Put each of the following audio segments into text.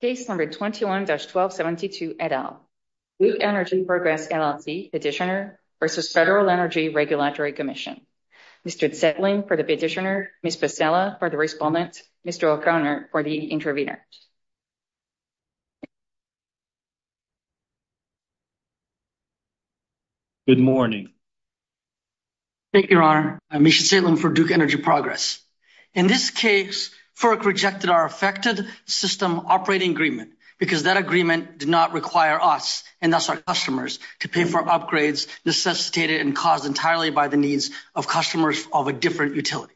Page 121-1272, et al. Duke Energy Progress, LLC Petitioner versus Federal Energy Regulatory Commission. Mr. Titling for the Petitioner, Mr. Stella for the Respondent, Mr. O'Connor for the Intervener. Good morning. Thank you, Your Honor. I'm Isha Titling for Duke Energy Progress. In this case, FERC rejected our affected system operating agreement because that agreement did not require us, and thus our customers, to pay for upgrades necessitated and caused entirely by the needs of customers of a different utility.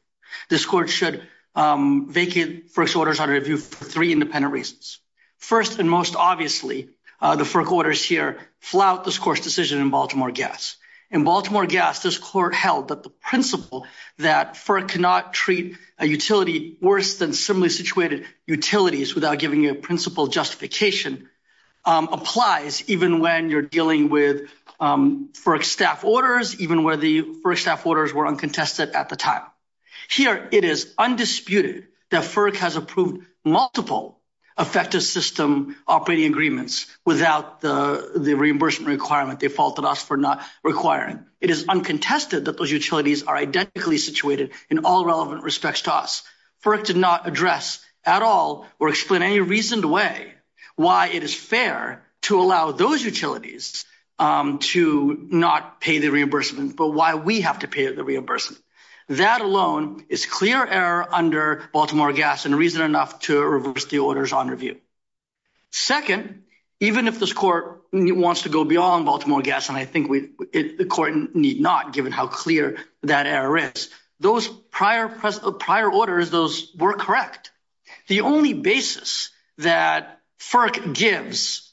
This Court should vacate FERC's orders under review for three independent reasons. First, and most obviously, the FERC orders here flout this Court's decision in Baltimore Guess. In Baltimore Guess, this Court held that the principle that FERC cannot treat a utility worse than similarly situated utilities without giving you a principal justification applies even when you're dealing with FERC staff orders, even where the FERC staff orders were uncontested at the time. Here, it is undisputed that FERC has approved multiple affected system operating agreements without the reimbursement requirement they faulted us for not requiring. It is uncontested that those utilities are identically situated in all relevant respects to us. FERC did not address at all or explain in any reasoned way why it is fair to allow those utilities to not pay the reimbursement, but why we have to pay the reimbursement. That alone is clear error under Baltimore Guess and reason enough to reverse the orders on review. Second, even if this Court wants to go beyond Baltimore Guess, and I think the Court need not given how clear that error is, those prior orders, those were correct. The only basis that FERC gives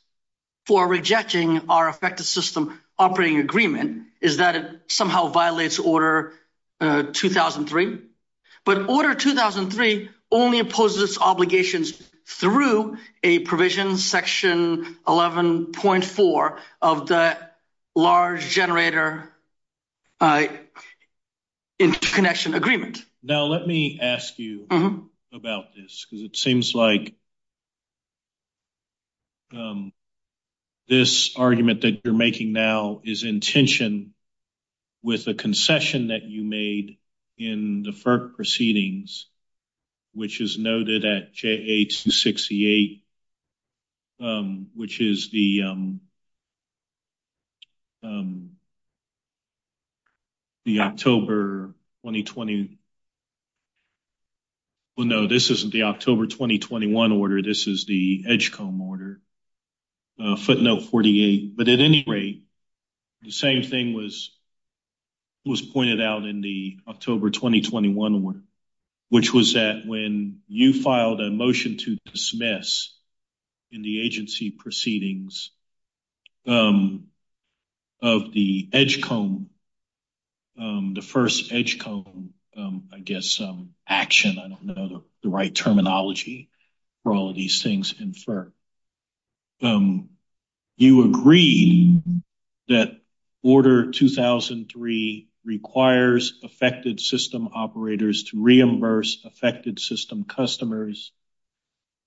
for rejecting our affected system operating agreement is that it somehow violates Order 2003, but Order 2003 only imposes obligations through a provision, Section 11.4 of the Large Generator Interconnection Agreement. Now, let me ask you about this, because it seems like this argument that you're making now is in tension with the concession that you made in the FERC proceedings, which is noted at JA268, which is the Well, no, this isn't the October 2021 order. This is the EDGECOMB order, footnote 48. But at any rate, the same thing was pointed out in the October 2021 one, which was that when you filed a motion to dismiss in the agency proceedings of the EDGECOMB, the first EDGECOMB, I guess, action, I don't know the right terminology for all of these things in FERC. You agree that Order 2003 requires affected system operators to reimburse affected system customers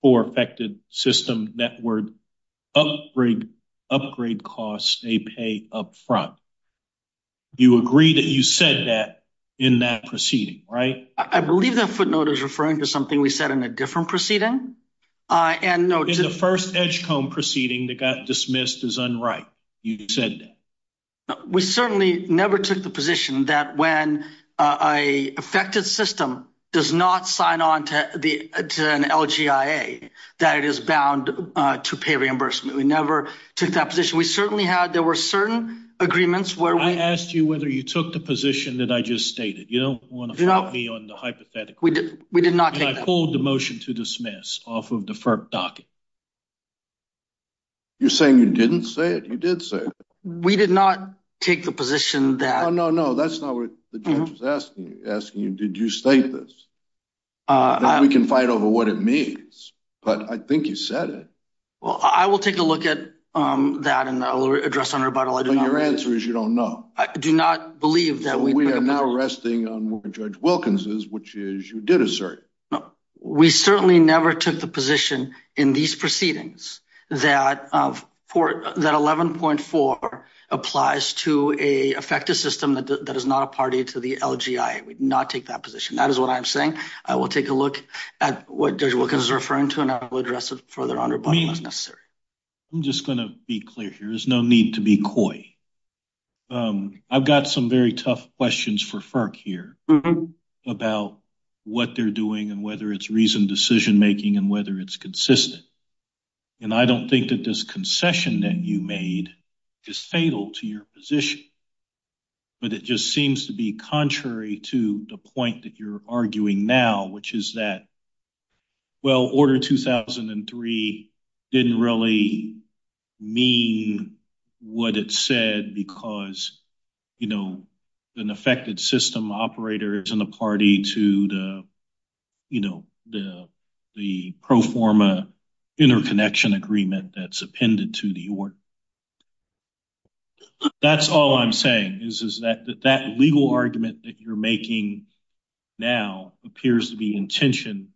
for affected system network upgrade costs they pay up front. You agree that you said that in that proceeding, right? I believe that footnote is referring to something we said in a different proceeding. In the first EDGECOMB proceeding that got dismissed as unright, you said that. We certainly never took the position that when an affected system does not sign on to an LGIA, that it is bound to pay reimbursement. We never took that position. We certainly had, there were certain agreements where we I asked you whether you took the position that I just stated. You don't want to put me on the hypothetical. We have pulled the motion to dismiss off of the FERC docket. You're saying you didn't say it? You did say it. We did not take the position that No, no, no. That's not what the judge was asking. He's asking, did you state this? We can fight over what it means, but I think you said it. Well, I will take a look at that and I'll address it on rebuttal. Your answer is you don't know. We are now resting on what Judge Wilkins is, which is you did assert. We certainly never took the position in these proceedings that 11.4 applies to an affected system that is not a party to the LGIA. We did not take that position. That is what I'm saying. I will take a look at what Judge Wilkins is referring to and I will address it further on rebuttal if necessary. I'm just going to be clear here. There's no need to be coy. I've got some very tough questions for FERC here about what they're doing and whether it's reasoned decision making and whether it's consistent. And I don't think that this concession that you made is fatal to your position. But it just seems to be contrary to the point that you're arguing now, which is that, well, Order 2003 didn't really mean what it said because, you know, an affected system operator is in the party to the, you know, the pro forma interconnection agreement that's appended to the order. That's all I'm saying is that that legal argument that you're making now appears to be in tension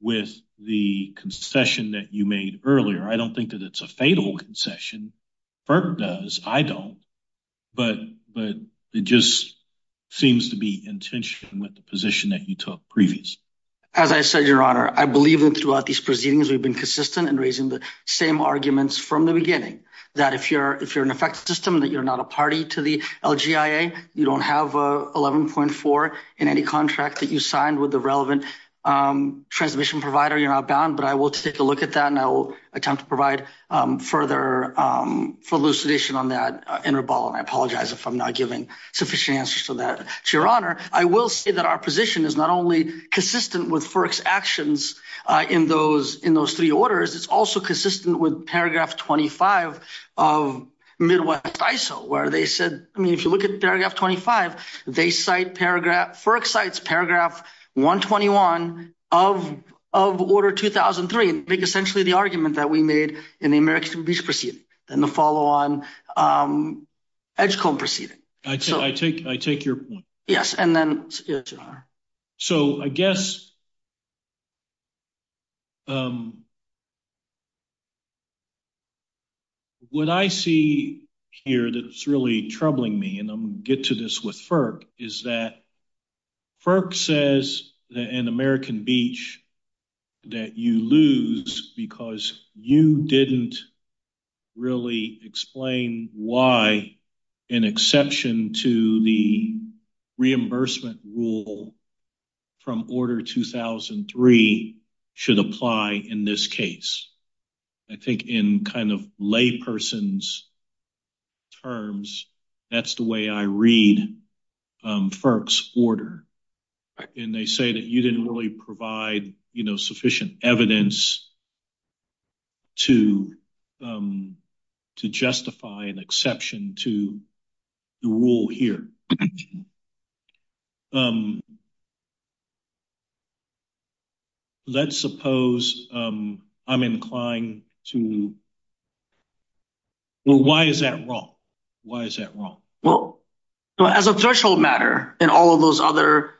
with the concession that you made earlier. I don't think that it's a fatal concession. FERC does. I don't. But it just seems to be in tension with the position that you took previously. As I said, your honor, I believe that throughout these proceedings, we've been consistent and raising the same arguments from the beginning that if you're, if you're an effect system that you're not a party to the LGA, you don't have a 11.4 in any contract that you signed with the relevant transmission provider. You're not bound, but I will take a look at that and I will attempt to provide further elucidation on that interval. And I apologize if I'm not giving sufficient answers for that to your honor. I will say that our position is not only consistent with first actions in those in those 3 orders. It's also consistent with paragraph 25 of Midwest ISO, where they said, I mean, if you look at paragraph 25, they cite paragraph sites, paragraph 121 of of order 2003, essentially the argument that we made in the American peace proceeding and the follow on. I just can't proceed. I take I take your. Yes. And then. So, I guess. What I see here that's really troubling me and I'm get to this with FERC is that FERC says that an American beach that you lose because you didn't really explain why an exception to the reimbursement rule from order 2003. Should apply in this case, I think, in kind of lay persons. Terms. That's the way I read FERC's order and they say that you didn't really provide sufficient evidence. To to justify an exception to the rule here. Let's suppose I'm inclined to. Why is that wrong? Why is that wrong? Well, as a threshold matter, and all of those other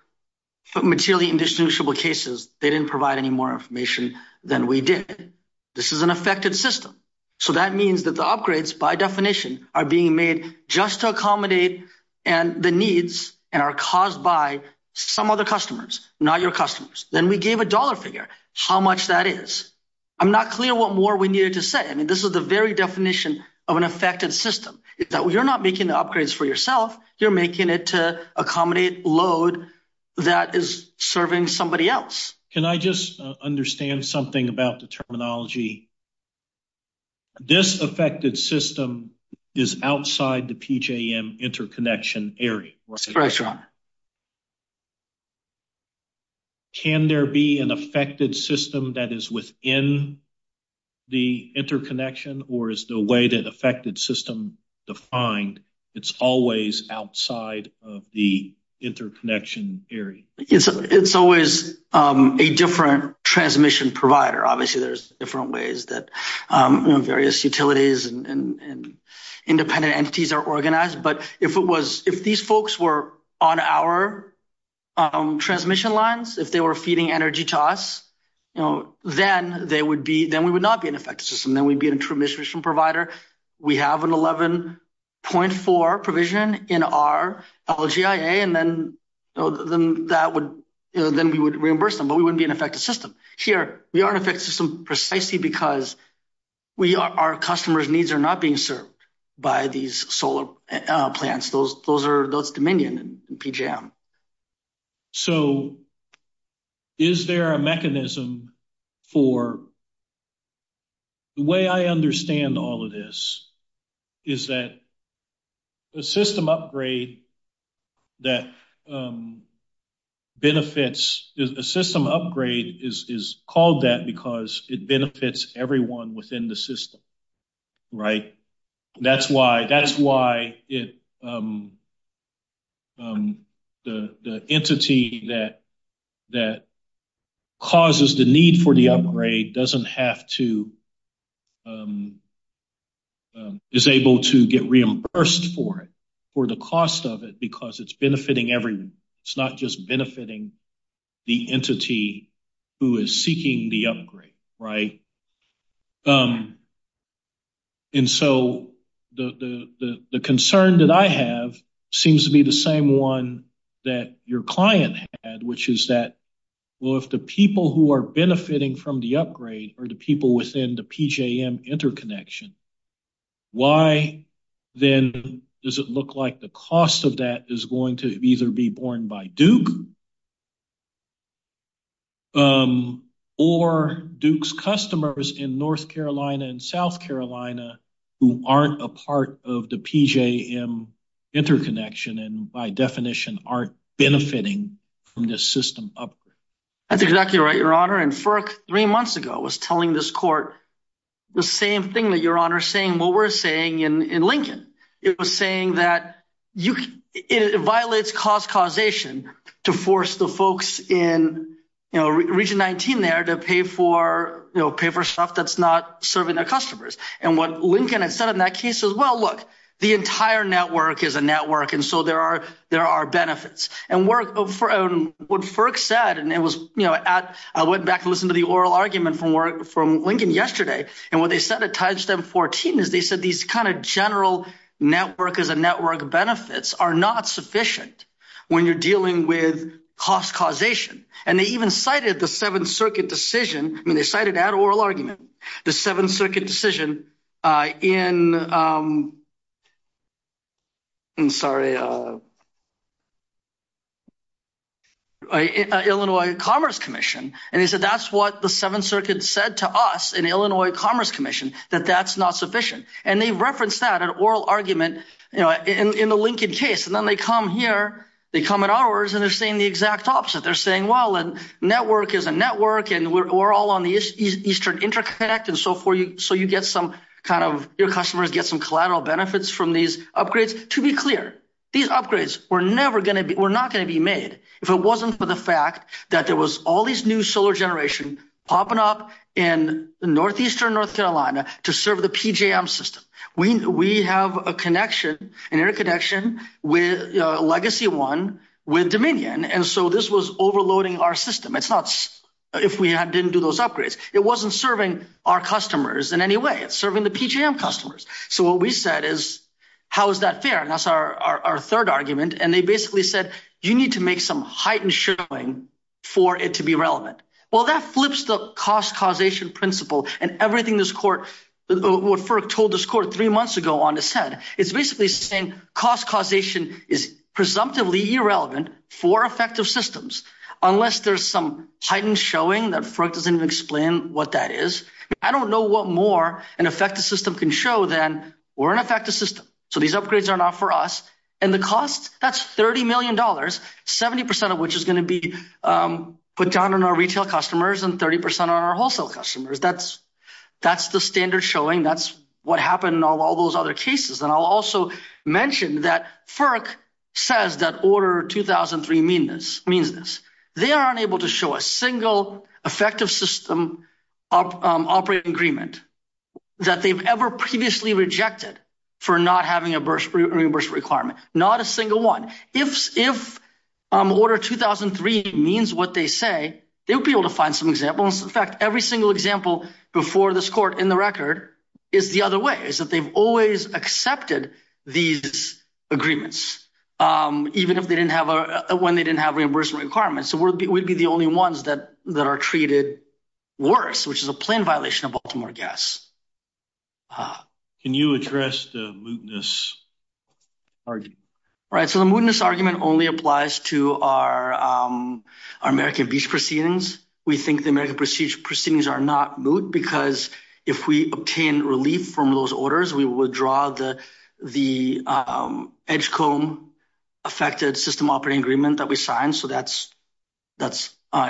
materially indistinguishable cases, they didn't provide any more information than we did. This is an effective system. So that means that the upgrades by definition are being made just to accommodate and the needs and are caused by some other customers. Now, your customers, then we gave a dollar figure how much that is. I'm not clear what more we needed to say. I mean, this is the very definition of an effective system. You're not making upgrades for yourself. You're making it to accommodate load that is serving somebody else. Can I just understand something about the terminology? This affected system is outside the PJM interconnection area. Can there be an affected system that is within the interconnection or is the way that affected system defined? It's always outside of the interconnection area. It's always a different transmission provider. Obviously, there's different ways that various utilities and independent entities are organized. But if these folks were on our transmission lines, if they were feeding energy to us, then we would not be an effective system. Then we'd be a transmission provider. We have an 11.4 provision in our LGIA, and then we would reimburse them, but we wouldn't be an effective system. Here, we are an effective system precisely because our customers' needs are not being served by these solar plants. Those are the dominion in PJM. Is there a mechanism for – the way I understand all of this is that the system upgrade is called that because it benefits everyone within the system. That's why the entity that causes the need for the upgrade doesn't have to – is able to get reimbursed for it, for the cost of it, because it's benefiting everyone. It's not just benefiting the entity who is seeking the upgrade. The concern that I have seems to be the same one that your client had, which is that, well, if the people who are benefiting from the upgrade are the people within the PJM interconnection, why then does it look like the cost of that is going to either be borne by Duke or Duke's customers in North Carolina and South Carolina who aren't a part of the PJM interconnection and, by definition, aren't benefiting from this system upgrade? That's exactly right, Your Honor. And FERC, three months ago, was telling this court the same thing that Your Honor is saying, what we're saying in Lincoln. It was saying that it violates cost causation to force the folks in Region 19 there to pay for stuff that's not serving their customers. And what Lincoln had said in that case was, well, look, the entire network is a network, and so there are benefits. And what FERC said, and it was – I went back and listened to the oral argument from Lincoln yesterday. And what they said at time step 14 is they said these kind of general network-as-a-network benefits are not sufficient when you're dealing with cost causation. And they even cited the Seventh Circuit decision – I mean, they cited that oral argument, the Seventh Circuit decision in – I'm sorry – Illinois Commerce Commission. And they said that's what the Seventh Circuit said to us in Illinois Commerce Commission, that that's not sufficient. And they referenced that, an oral argument, in the Lincoln case. And then they come here, they come at ours, and they're saying the exact opposite. They're saying, well, a network is a network, and we're all on the Eastern Interconnect and so forth, so you get some kind of – your customers get some collateral benefits from these upgrades. To be clear, these upgrades were never going to be – were not going to be made if it wasn't for the fact that there was all these new solar generation popping up in Northeastern North Carolina to serve the PJM system. We have a connection, an air connection, with Legacy One with Dominion, and so this was overloading our system. It's not – if we didn't do those upgrades, it wasn't serving our customers in any way. So what we said is, how is that fair? And that's our third argument. And they basically said, you need to make some heightened showing for it to be relevant. Well, that flips the cost causation principle and everything this court – what FERC told this court three months ago on the Senate. It's basically saying cost causation is presumptively irrelevant for effective systems unless there's some heightened showing that FERC doesn't even explain what that is. I don't know what more an effective system can show than we're an effective system, so these upgrades are not for us. And the cost, that's $30 million, 70 percent of which is going to be put down on our retail customers and 30 percent on our wholesale customers. That's the standard showing. That's what happened in all those other cases. And I'll also mention that FERC says that Order 2003 means this. They are unable to show a single effective system operating agreement that they've ever previously rejected for not having a reimbursement requirement, not a single one. If Order 2003 means what they say, they'll be able to find some examples. In fact, every single example before this court in the record is the other way. It's that they've always accepted these agreements, even if they didn't have – when they didn't have reimbursement requirements. So we'd be the only ones that are treated worse, which is a plain violation of Baltimore gas. Can you address the mootness argument? Right, so the mootness argument only applies to our American Beach proceedings. We think the American Beach proceedings are not moot because if we obtain relief from those orders, we withdraw the edge comb affected system operating agreement that we signed. So that's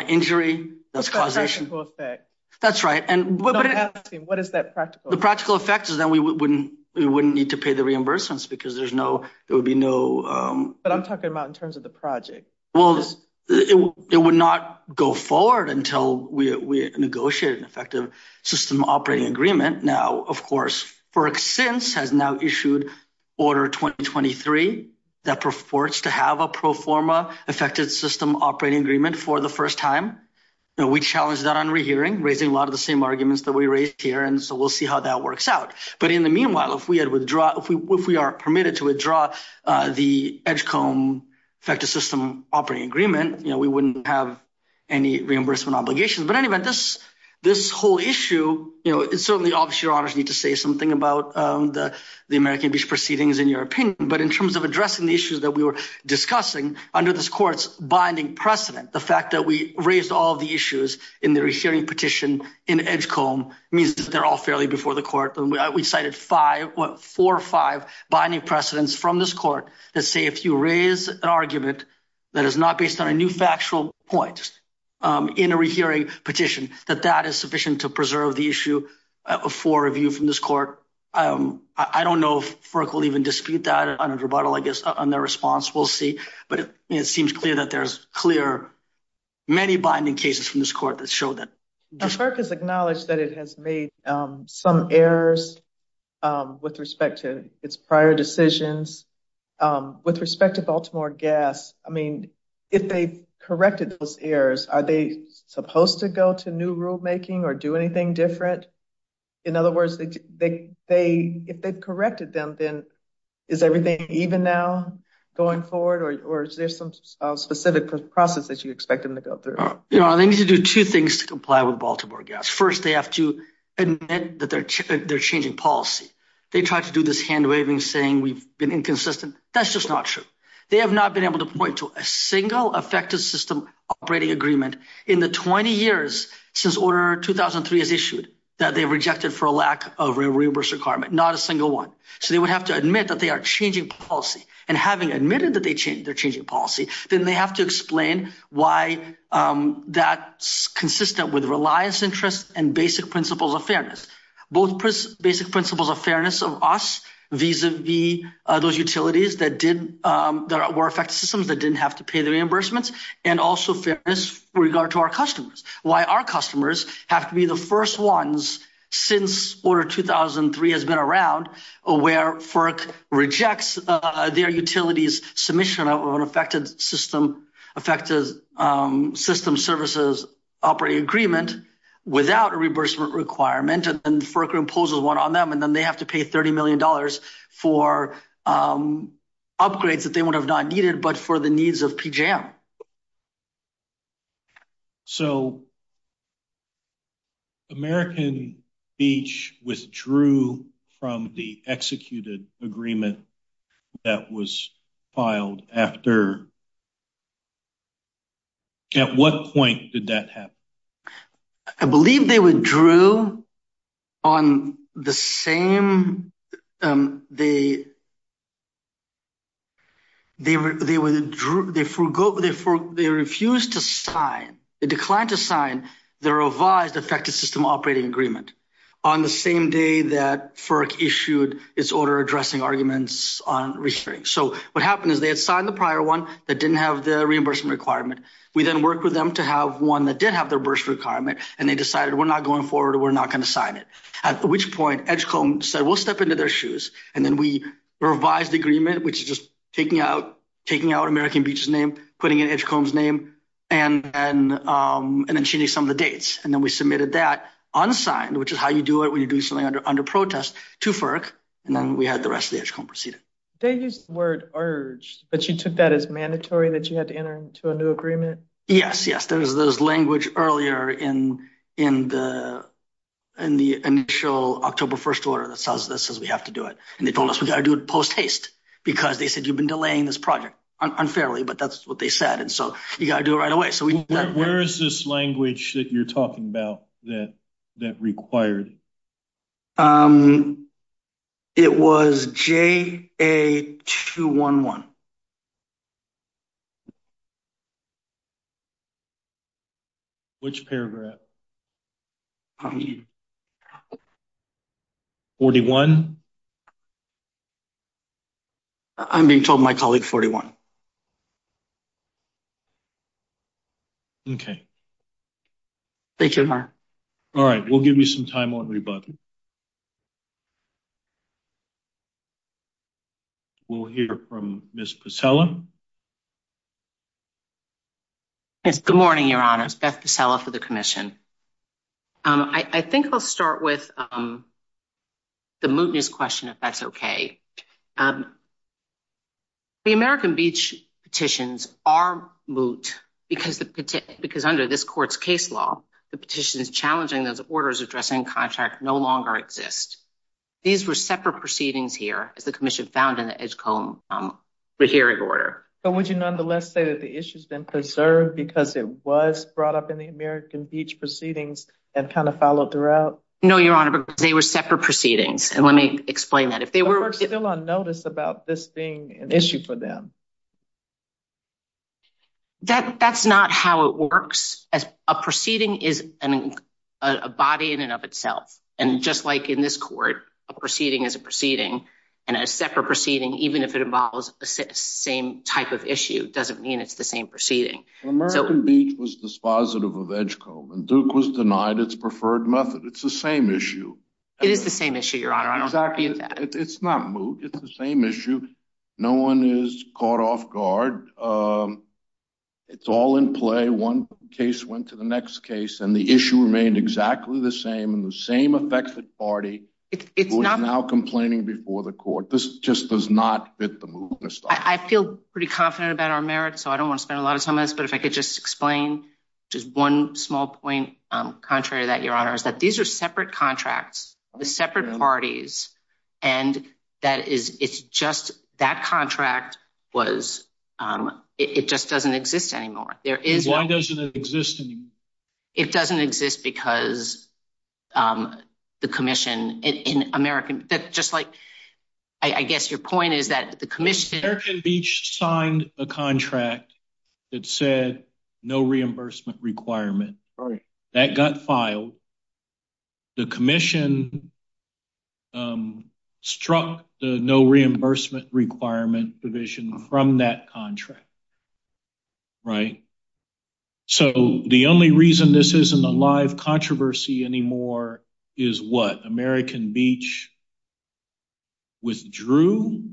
injury, that's causation. That's a practical effect. That's right. What is that practical effect? The practical effect is that we wouldn't need to pay the reimbursements because there's no – there would be no – But I'm talking about in terms of the project. Well, it would not go forward until we negotiated an effective system operating agreement. Now, of course, FERC since has now issued Order 2023 that purports to have a pro forma affected system operating agreement for the first time. We challenged that on rehearing, raising a lot of the same arguments that we raised here, and so we'll see how that works out. But in the meanwhile, if we are permitted to withdraw the edge comb affected system operating agreement, we wouldn't have any reimbursement obligations. But anyway, this whole issue, you know, it's certainly obvious you want me to say something about the American Beach proceedings in your opinion, but in terms of addressing the issues that we were discussing under this court's binding precedent, the fact that we raised all of the issues in the rehearing petition in edge comb means that they're all fairly before the court. We cited four or five binding precedents from this court that say if you raise an argument that is not based on a new factual point in a rehearing petition, that that is sufficient to preserve the issue for review from this court. I don't know if FERC will even dispute that on a rebuttal, I guess, on their response. We'll see. But it seems clear that there's clear many binding cases from this court that show that. FERC has acknowledged that it has made some errors with respect to its prior decisions. With respect to Baltimore Gas, I mean, if they corrected those errors, are they supposed to go to new rulemaking or do anything different? In other words, if they corrected them, then is everything even now going forward? Or is there some specific process that you expect them to go through? They need to do two things to comply with Baltimore Gas. First, they have to admit that they're changing policy. They tried to do this hand-waving saying we've been inconsistent. That's just not true. They have not been able to point to a single effective system operating agreement in the 20 years since Order 2003 is issued that they rejected for a lack of reimbursement requirement, not a single one. So they would have to admit that they are changing policy. And having admitted that they're changing policy, then they have to explain why that's consistent with reliance interests and basic principles of fairness. Both basic principles of fairness of us vis-a-vis those utilities that were effective systems that didn't have to pay the reimbursements and also fairness with regard to our customers. Why our customers have to be the first ones since Order 2003 has been around where FERC rejects their utilities' submission of an effective system services operating agreement without a reimbursement requirement. And then FERC imposes one on them, and then they have to pay $30 million for upgrades that they would have not needed but for the needs of PJM. So American Beach withdrew from the executed agreement that was filed after – at what point did that happen? I believe they withdrew on the same – they refused to sign – they declined to sign the revised effective system operating agreement on the same day that FERC issued its order addressing arguments on restraint. So what happened is they had signed the prior one that didn't have the reimbursement requirement. We then worked with them to have one that did have the reimbursement requirement, and they decided we're not going forward or we're not going to sign it. At which point Edgecombe said we'll step into their shoes, and then we revised the agreement, which is just taking out American Beach's name, putting in Edgecombe's name, and then changing some of the dates. And then we submitted that unsigned, which is how you do it when you do something under protest, to FERC, and then we had the rest of Edgecombe proceed. They just weren't urged, but you took that as mandatory that you had to enter into a new agreement? Yes, yes. There was this language earlier in the initial October 1st order that says we have to do it. And they told us we've got to do it post-haste because they said you've been delaying this project unfairly, but that's what they said. And so you've got to do it right away. Where is this language that you're talking about that required? It was JA211. Which paragraph? 41? I'm being told my colleague 41. Okay. Thank you. All right, we'll give you some time while we vote. We'll hear from Ms. Pacella. Good morning, Your Honors. Beth Pacella for the Commission. I think I'll start with the mootness question, if that's okay. The American Beach petitions are moot because under this court's case law, the petition is challenging those orders addressing contract no longer exist. These were separate proceedings here, as the Commission found in the Edgecombe Regulatory Order. But would you nonetheless say that the issue's been preserved because it was brought up in the American Beach proceedings and kind of followed throughout? No, Your Honor, but they were separate proceedings, and let me explain that. But we're still on notice about this being an issue for them. That's not how it works. A proceeding is a body in and of itself. And just like in this court, a proceeding is a proceeding, and a separate proceeding, even if it involves the same type of issue, doesn't mean it's the same proceeding. The American Beach was dispositive of Edgecombe, and Duke was denied its preferred method. It's the same issue. It is the same issue, Your Honor. I don't dispute that. It's not moot. It's the same issue. No one is caught off guard. It's all in play. One case went to the next case, and the issue remained exactly the same. And the same affected party was now complaining before the court. This just does not fit the mootness. I feel pretty confident about our merits, so I don't want to spend a lot of time on this. But if I could just explain just one small point, contrary to that, Your Honor, is that these are separate contracts with separate parties. And that contract just doesn't exist anymore. Why doesn't it exist anymore? It doesn't exist because the commission in America—I guess your point is that the commission— had said no reimbursement requirement. That got filed. The commission struck the no reimbursement requirement provision from that contract. Right? So the only reason this isn't a live controversy anymore is what? American Beach withdrew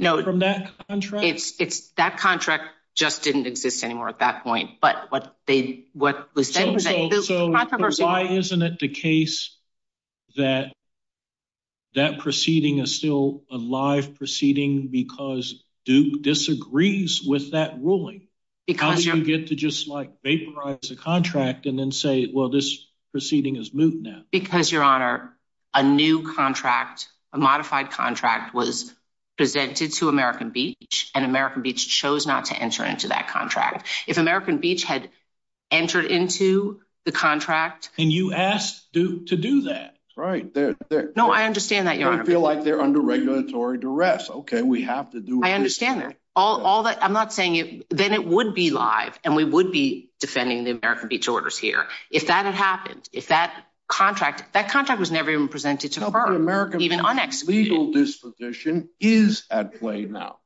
from that contract? That contract just didn't exist anymore at that point. So why isn't it the case that that proceeding is still a live proceeding because Duke disagrees with that ruling? How did you get to just, like, vaporize the contract and then say, well, this proceeding is moot now? Because, Your Honor, a new contract, a modified contract, was presented to American Beach, and American Beach chose not to enter into that contract. If American Beach had entered into the contract— And you asked Duke to do that. Right. No, I understand that, Your Honor. I feel like they're under regulatory duress. Okay, we have to do— I understand that. All that—I'm not saying—then it would be live, and we would be defending the American Beach orders here. If that had happened, if that contract—that contract was never even presented to the court. No, but American Beach's legal disposition is at play now.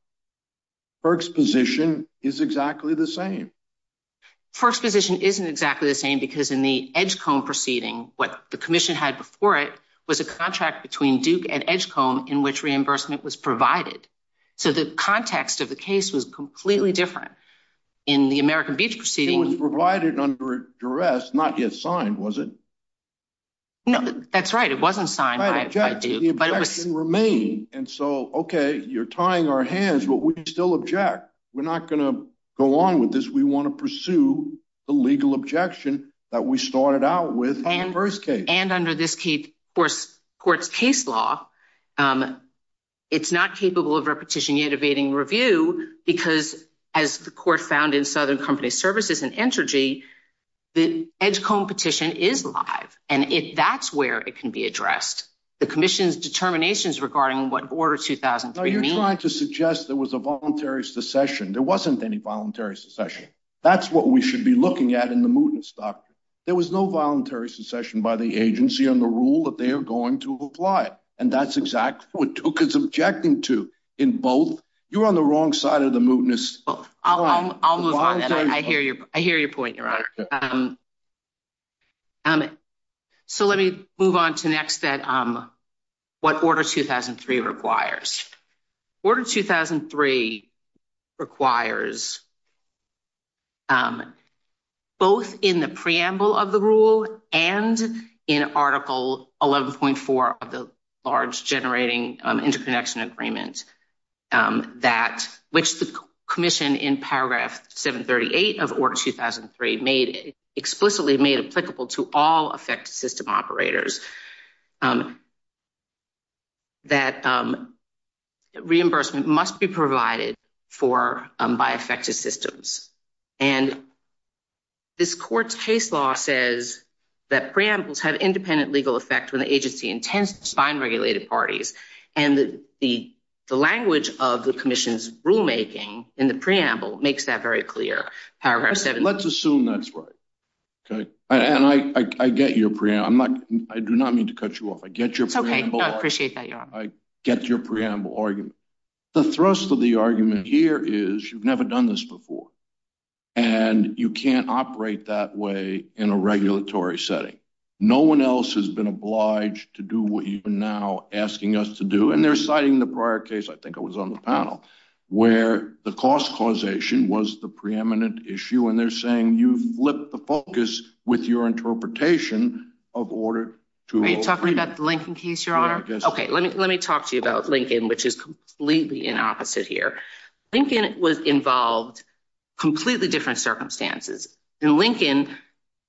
Burke's position is exactly the same. Burke's position isn't exactly the same because in the Edgecombe proceeding, what the commission had before it was a contract between Duke and Edgecombe in which reimbursement was provided. So the context of the case was completely different. In the American Beach proceeding— It was provided under duress, not yet signed, was it? No, that's right. It wasn't signed. I object. The objection remained. And so, okay, you're tying our hands, but we still object. We're not going to go on with this. We want to pursue the legal objection that we started out with on Burke's case. And under this court's case law, it's not capable of repetition univading review because, as the court found in Southern Company Services and Entergy, the Edgecombe petition is live. And if that's where it can be addressed, the commission's determinations regarding what Order 2003 means— No, you're trying to suggest there was a voluntary secession. There wasn't any voluntary secession. That's what we should be looking at in the mootness doctrine. There was no voluntary secession by the agency on the rule that they are going to apply. And that's exactly what Duke is objecting to in both. You're on the wrong side of the mootness. I'll move on. I hear your point, Your Honor. So let me move on to next, what Order 2003 requires. Order 2003 requires, both in the preamble of the rule and in Article 11.4 of the Large Generating Interconnection Agreement, which the commission in Paragraph 738 of Order 2003 explicitly made applicable to all affected system operators, that reimbursement must be provided by affected systems. And this court's case law says that preambles have independent legal effects when the agency intends to bind regulated parties. And the language of the commission's rulemaking in the preamble makes that very clear. Let's assume that's right. And I get your preamble. I do not mean to cut you off. I get your preamble. I appreciate that, Your Honor. I get your preamble argument. The thrust of the argument here is you've never done this before. And you can't operate that way in a regulatory setting. No one else has been obliged to do what you are now asking us to do. And they're citing the prior case, I think it was on the panel, where the cost causation was the preeminent issue. And they're saying you've lit the focus with your interpretation of Order 2003. Are you talking about the Lincoln case, Your Honor? Okay, let me talk to you about Lincoln, which is completely the opposite here. Lincoln was involved in completely different circumstances. In Lincoln,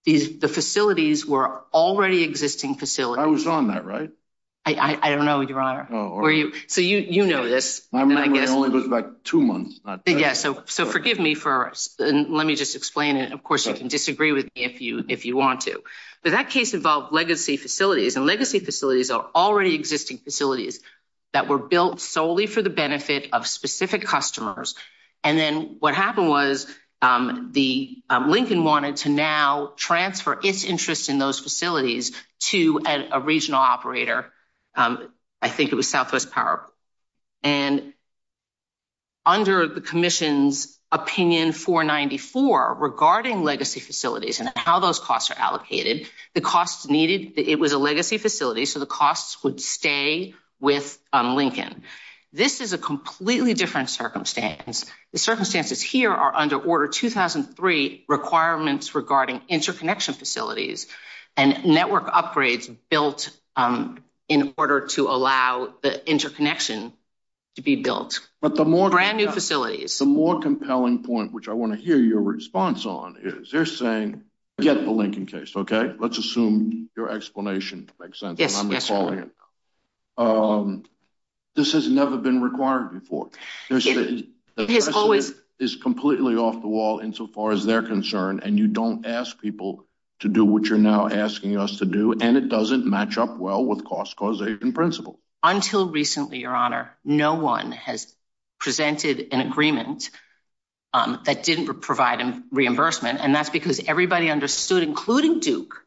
the facilities were already existing facilities. I was on that, right? I don't know, Your Honor. So you know this. I remember it only took, like, two months. So forgive me, and let me just explain it. Of course, you can disagree with me if you want to. But that case involved legacy facilities, and legacy facilities are already existing facilities that were built solely for the benefit of specific customers. And then what happened was Lincoln wanted to now transfer its interest in those facilities to a regional operator. I think it was Southwest Power. And under the commission's opinion 494, regarding legacy facilities and how those costs are allocated, the costs needed, it was a legacy facility, so the costs would stay with Lincoln. This is a completely different circumstance. The circumstances here are under Order 2003, requirements regarding interconnection facilities and network upgrades built in order to allow the interconnection to be built. Brand new facilities. But the more compelling point, which I want to hear your response on, is they're saying, get the Lincoln case, okay? Let's assume your explanation makes sense. Yes, yes, Your Honor. This has never been required before. It's completely off the wall insofar as they're concerned, and you don't ask people to do what you're now asking us to do, and it doesn't match up well with cost causation principles. Until recently, Your Honor, no one has presented an agreement that didn't provide reimbursement. And that's because everybody understood, including Duke,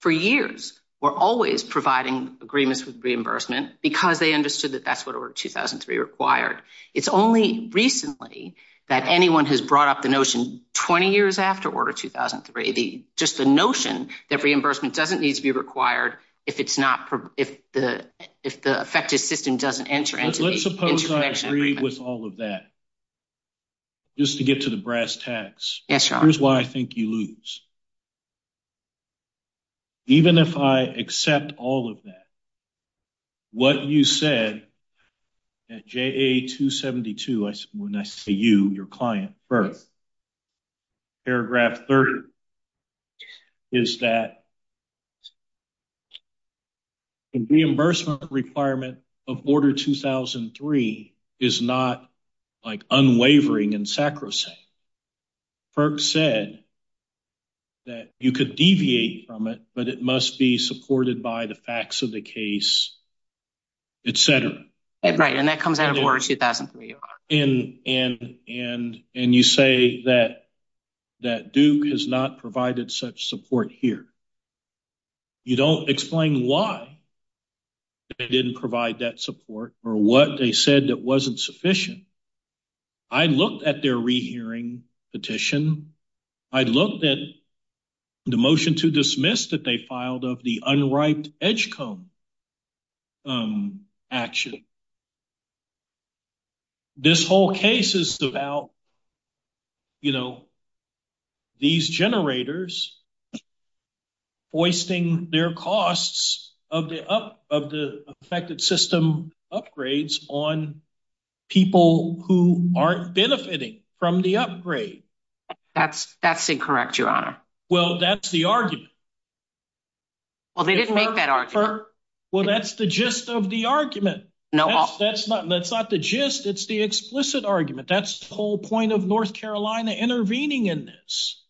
for years, we're always providing agreements with reimbursement, because they understood that that's what Order 2003 required. It's only recently that anyone has brought up the notion 20 years after Order 2003, just the notion that reimbursement doesn't need to be required if the affected system doesn't enter. Let's suppose I agree with all of that, just to get to the brass tacks. Yes, Your Honor. Here's why I think you lose. Even if I accept all of that, what you said at JA 272, when I say you, your client first, paragraph 30, is that the reimbursement requirement of Order 2003 is not unwavering and sacrosanct. Kirk said that you could deviate from it, but it must be supported by the facts of the case, et cetera. Right, and that comes out of Order 2003, Your Honor. And you say that Duke has not provided such support here. You don't explain why they didn't provide that support or what they said that wasn't sufficient. I looked at their rehearing petition. I looked at the motion to dismiss that they filed of the unripe edge comb action. This whole case is about these generators hoisting their costs of the affected system upgrades on people who aren't benefiting from the upgrade. That's incorrect, Your Honor. Well, that's the argument. Well, they didn't make that argument. Well, that's the gist of the argument. That's not the gist. It's the explicit argument. That's the whole point of North Carolina intervening in this.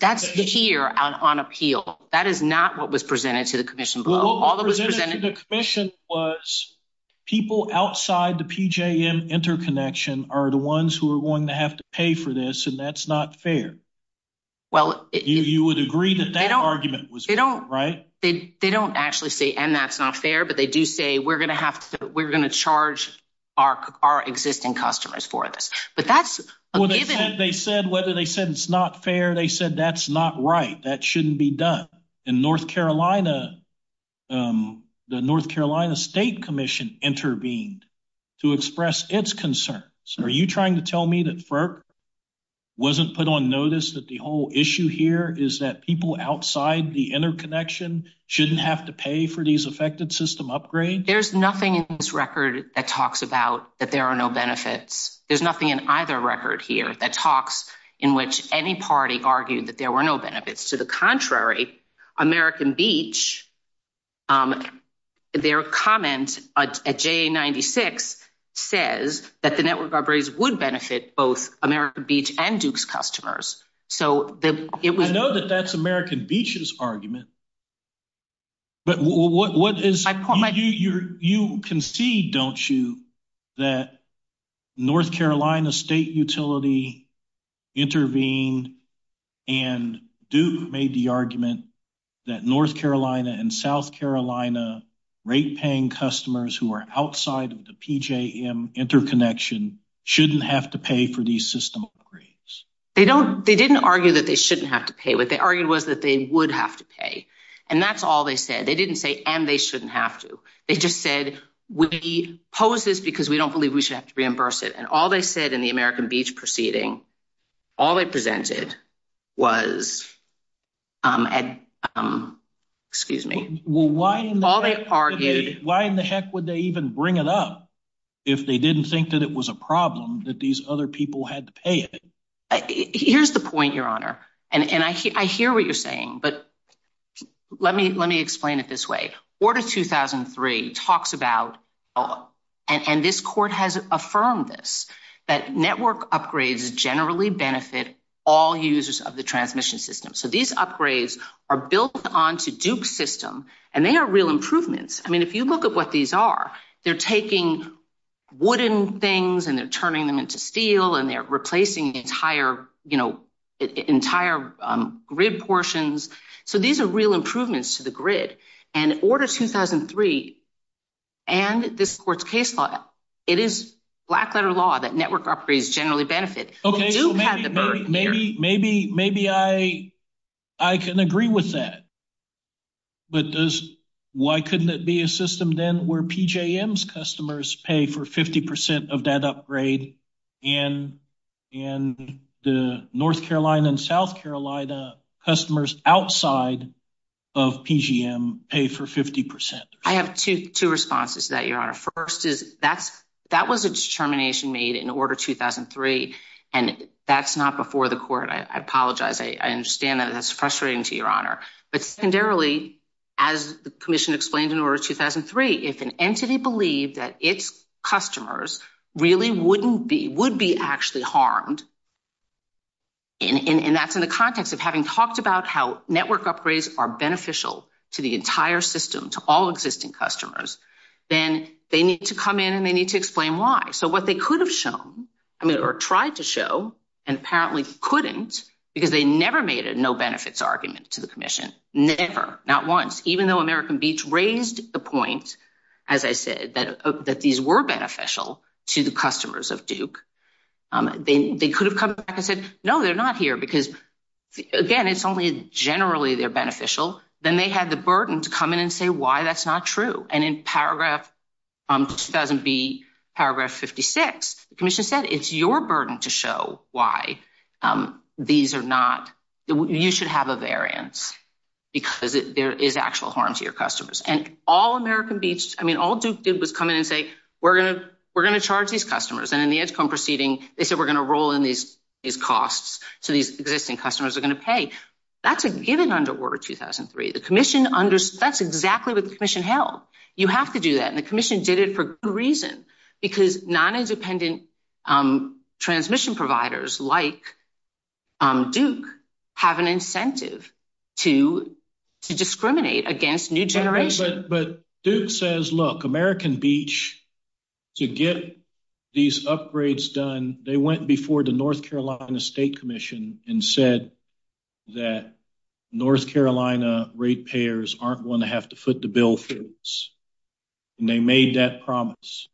That's here on appeal. That is not what was presented to the commission. All that was presented to the commission was people outside the PJM interconnection are the ones who are going to have to pay for this, and that's not fair. You would agree that that argument was fair, right? They don't actually say, and that's not fair, but they do say we're going to charge our existing customers for this. They said whether they said it's not fair. They said that's not right. That shouldn't be done. In North Carolina, the North Carolina State Commission intervened to express its concerns. Are you trying to tell me that FERC wasn't put on notice that the whole issue here is that people outside the interconnection shouldn't have to pay for these affected system upgrades? There's nothing in this record that talks about that there are no benefits. There's nothing in either record here that talks in which any party argued that there were no benefits. To the contrary, American Beach, their comments at JA-96 says that the network upgrades would benefit both American Beach and Duke's customers. I know that that's American Beach's argument, but you concede, don't you, that North Carolina State Utility intervened and Duke made the argument that North Carolina and South Carolina rate-paying customers who are outside of the PJM interconnection shouldn't have to pay for these system upgrades? They didn't argue that they shouldn't have to pay. What they argued was that they would have to pay, and that's all they said. They didn't say, and they shouldn't have to. They just said, we oppose this because we don't believe we should have to reimburse it. Why in the heck would they even bring it up if they didn't think that it was a problem that these other people had to pay it? Here's the point, Your Honor. I hear what you're saying, but let me explain it this way. Order 2003 talks about, and this court has affirmed this, that network upgrades generally benefit all users of the transmission system. So these upgrades are built onto Duke's system, and they are real improvements. I mean, if you look at what these are, they're taking wooden things, and they're turning them into steel, and they're replacing entire grid portions. So these are real improvements to the grid. And Order 2003 and this court's case file, it is black-letter law that network upgrades generally benefit. Maybe I can agree with that, but why couldn't it be a system then where PJM's customers pay for 50% of that upgrade, and the North Carolina and South Carolina customers outside of PJM pay for 50%? I have two responses to that, Your Honor. That was a determination made in Order 2003, and that's not before the court. I apologize. I understand that, and that's frustrating to Your Honor. But secondarily, as the commission explained in Order 2003, if an entity believed that its customers really wouldn't be, would be actually harmed, and that's in the context of having talked about how network upgrades are beneficial to the entire system, to all existing customers, then they need to come in, and they need to explain why. So what they could have shown, or tried to show, and apparently couldn't, because they never made a no-benefits argument to the commission, never, not once, even though American Beach raised the point, as I said, that these were beneficial to the customers of Duke. They could have come back and said, no, they're not here, because, again, it's only generally they're beneficial. Then they had the burden to come in and say why that's not true. And in Paragraph 2000B, Paragraph 56, the commission said, it's your burden to show why these are not – you should have a variance, because there is actual harm to your customers. And all American Beach – I mean, all Duke did was come in and say, we're going to charge these customers. And in the ISCOM proceeding, they said, we're going to roll in these costs to these existing customers. We're going to pay. That's a given under Order 2003. The commission – that's exactly what the commission held. You have to do that. And the commission did it for good reason, because non-independent transmission providers like Duke have an incentive to discriminate against new generation. But Duke says, look, American Beach, to get these upgrades done, they went before the North Carolina State Commission and said that North Carolina rate payers aren't going to have to foot the bill for this. And they made that promise.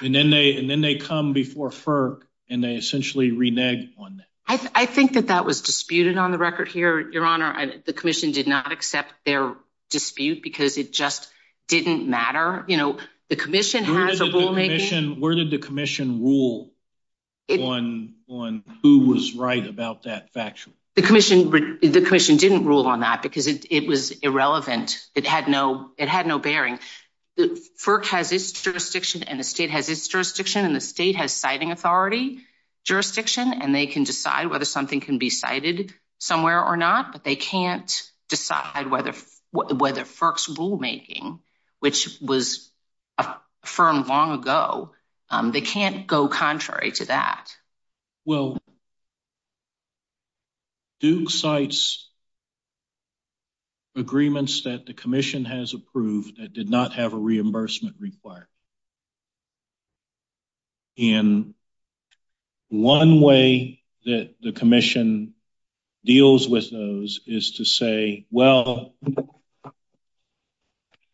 And then they come before FERC, and they essentially reneged on that. I think that that was disputed on the record here, Your Honor. The commission did not accept their dispute, because it just didn't matter. You know, the commission had the rulemaking. Where did the commission rule on who was right about that factually? The commission didn't rule on that, because it was irrelevant. It had no bearing. FERC has its jurisdiction, and the state has its jurisdiction, and the state has siting authority jurisdiction, and they can decide whether something can be cited somewhere or not. But they can't decide whether FERC's rulemaking, which was affirmed long ago, they can't go contrary to that. Well, Duke cites agreements that the commission has approved that did not have a reimbursement required. And one way that the commission deals with those is to say, well,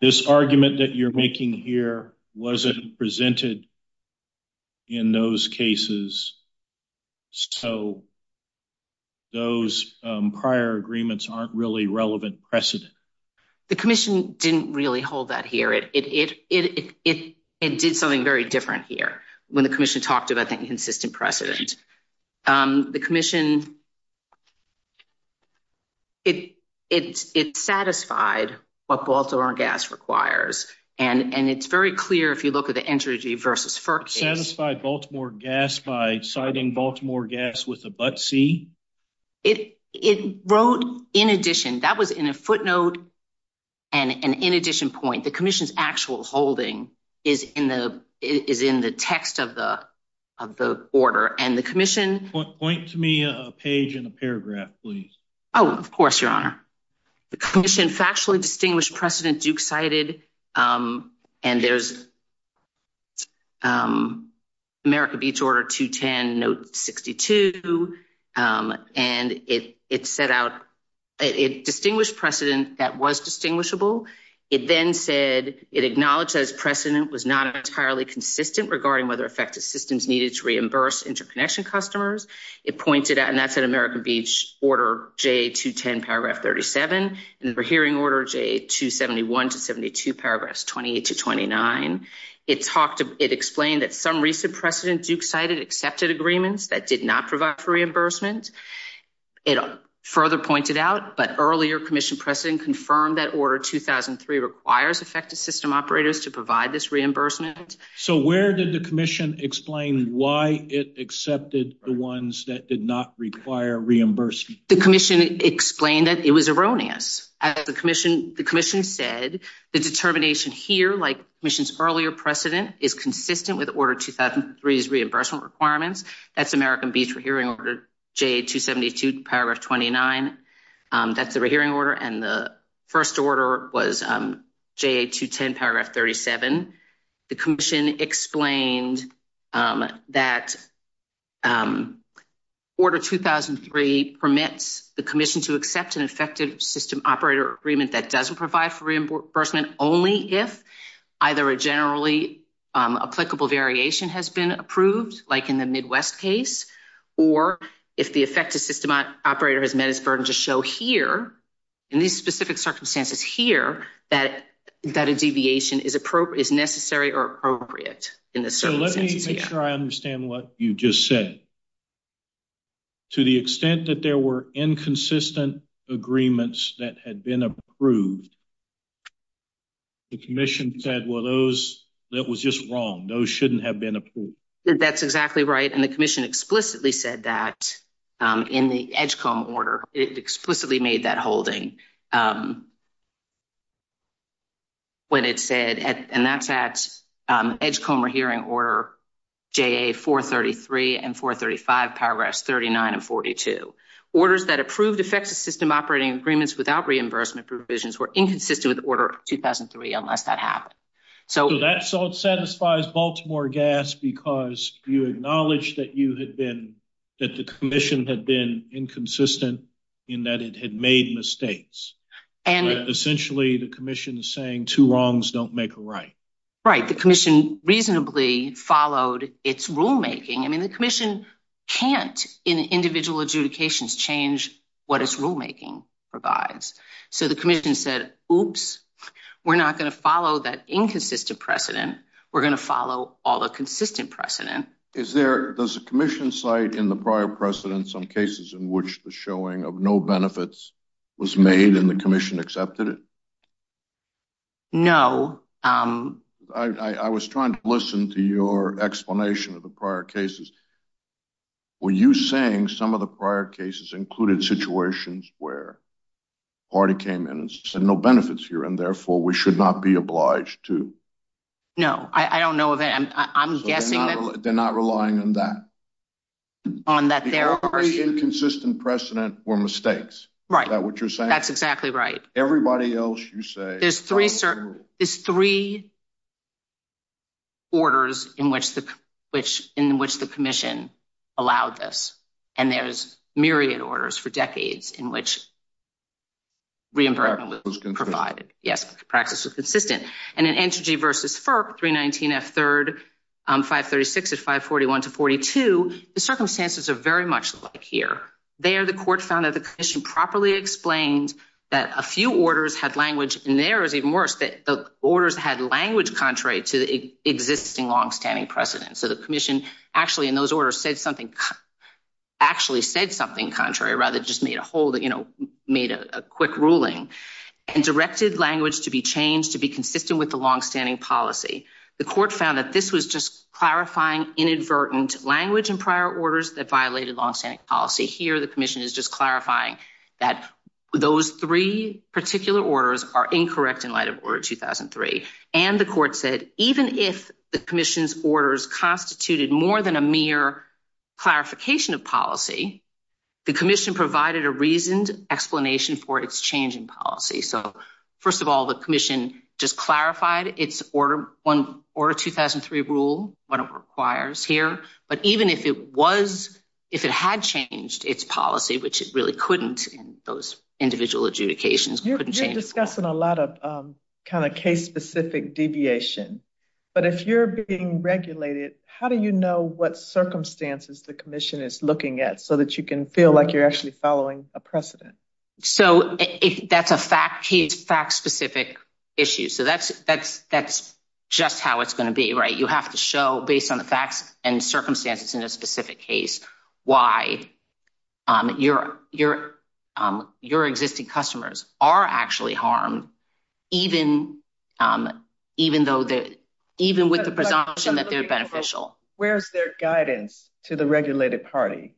this argument that you're making here wasn't presented in those cases. So those prior agreements aren't really relevant precedent. The commission didn't really hold that here. It did something very different here when the commission talked about that consistent precedent. The commission, it satisfied what Baltimore Gas requires, and it's very clear if you look at the energy versus FERC. Satisfied Baltimore Gas by citing Baltimore Gas with a but C? It wrote in addition. That was in a footnote and an in addition point. The commission's actual holding is in the text of the order. And the commission. Point to me a page and a paragraph, please. Oh, of course, your honor. The commission factually distinguished precedent Duke cited. And there's America Beach order 210 note 62. And it set out a distinguished precedent that was distinguishable. It then said it acknowledged as precedent was not entirely consistent regarding whether effective systems needed to reimburse interconnection customers. It pointed out, and that's an America Beach order. J210 paragraph 37 for hearing order J271 to 72 paragraph 28 to 29. It talked to it explained that some recent precedent Duke cited accepted agreements that did not provide for reimbursement. Further pointed out, but earlier commission precedent confirmed that order 2003 requires effective system operators to provide this reimbursement. So, where did the commission explain why it accepted the ones that did not require reimbursement? The commission explained that it was erroneous at the commission. The commission said the determination here, like missions earlier precedent is consistent with order 2003 is reimbursement requirements. That's American beach for hearing order J272 paragraph 29. That's the hearing order and the 1st order was J210 paragraph 37. The commission explained that order 2003 permits the commission to accept an effective system operator agreement that doesn't provide for reimbursement only. If either a generally applicable variation has been approved, like, in the Midwest case, or if the effective system operator has met its burden to show here. And these specific circumstances here that that a deviation is appropriate is necessary or appropriate in the. So, let me try and understand what you just said. To the extent that there were inconsistent agreements that had been approved. The commission said, well, those that was just wrong. Those shouldn't have been. That's exactly right. And the commission explicitly said that in the order, it explicitly made that holding. When it said, and that's that edge coma hearing order. J433 and 435 paragraphs, 39 and 42 orders that approved effective system operating agreements without reimbursement provisions were inconsistent with order 2003 unless that happened. So, that's all satisfies Baltimore gas, because you acknowledge that you had been. That the commission had been inconsistent in that it had made mistakes. And essentially the commission saying too long, don't make a right. Right. The commission reasonably followed its rulemaking. I mean, the commission can't in individual adjudications change what is rulemaking provides. So, the commission said, oops, we're not going to follow that inconsistent precedent. We're going to follow all the consistent precedent. Is there a commission site in the prior precedent? Some cases in which the showing of no benefits. Was made in the commission accepted it. No, I was trying to listen to your explanation of the prior cases. Were you saying some of the prior cases included situations where. Party came in and said, no benefits here and therefore we should not be obliged to. No, I don't know that. I'm guessing they're not relying on that. On that inconsistent precedent for mistakes, right? That's exactly right. Everybody else you say, there's 3, there's 3. Orders in which the, which in which the commission. Allowed this and there's myriad orders for decades in which. Yes, practice is consistent and an energy versus for 319 as 3rd. 536 is 541 to 42. The circumstances are very much like here. There the court found that the commission properly explained that a few orders had language and there is even worse that the orders had language contrary to the existing long standing precedent. So, the commission actually in those orders said something actually said something contrary rather just made a whole that made a quick ruling and directed language to be changed to be consistent with the long standing policy. The court found that this was just clarifying inadvertent language and prior orders that violated long standing policy here. The commission is just clarifying. Those 3 particular orders are incorrect in light of order 2003 and the court said, even if the commission's orders constituted more than a mere clarification of policy. The commission provided a reasoned explanation for its changing policy. So, 1st of all, the commission just clarified its order or 2003 rule requires here. But even if it was, if it had changed its policy, which is really couldn't those individual adjudications discussing a lot of kind of case specific deviation. But if you're being regulated, how do you know what circumstances the commission is looking at? So that you can feel like you're actually following a precedent. So, if that's a fact, he's fact specific issues. So that's, that's, that's just how it's going to be. Right? You have to show based on the facts and circumstances in a specific case. Why you're, you're, you're existing customers are actually harm. Even even though that, even with the presumption that they're beneficial, where's their guidance to the regulated party?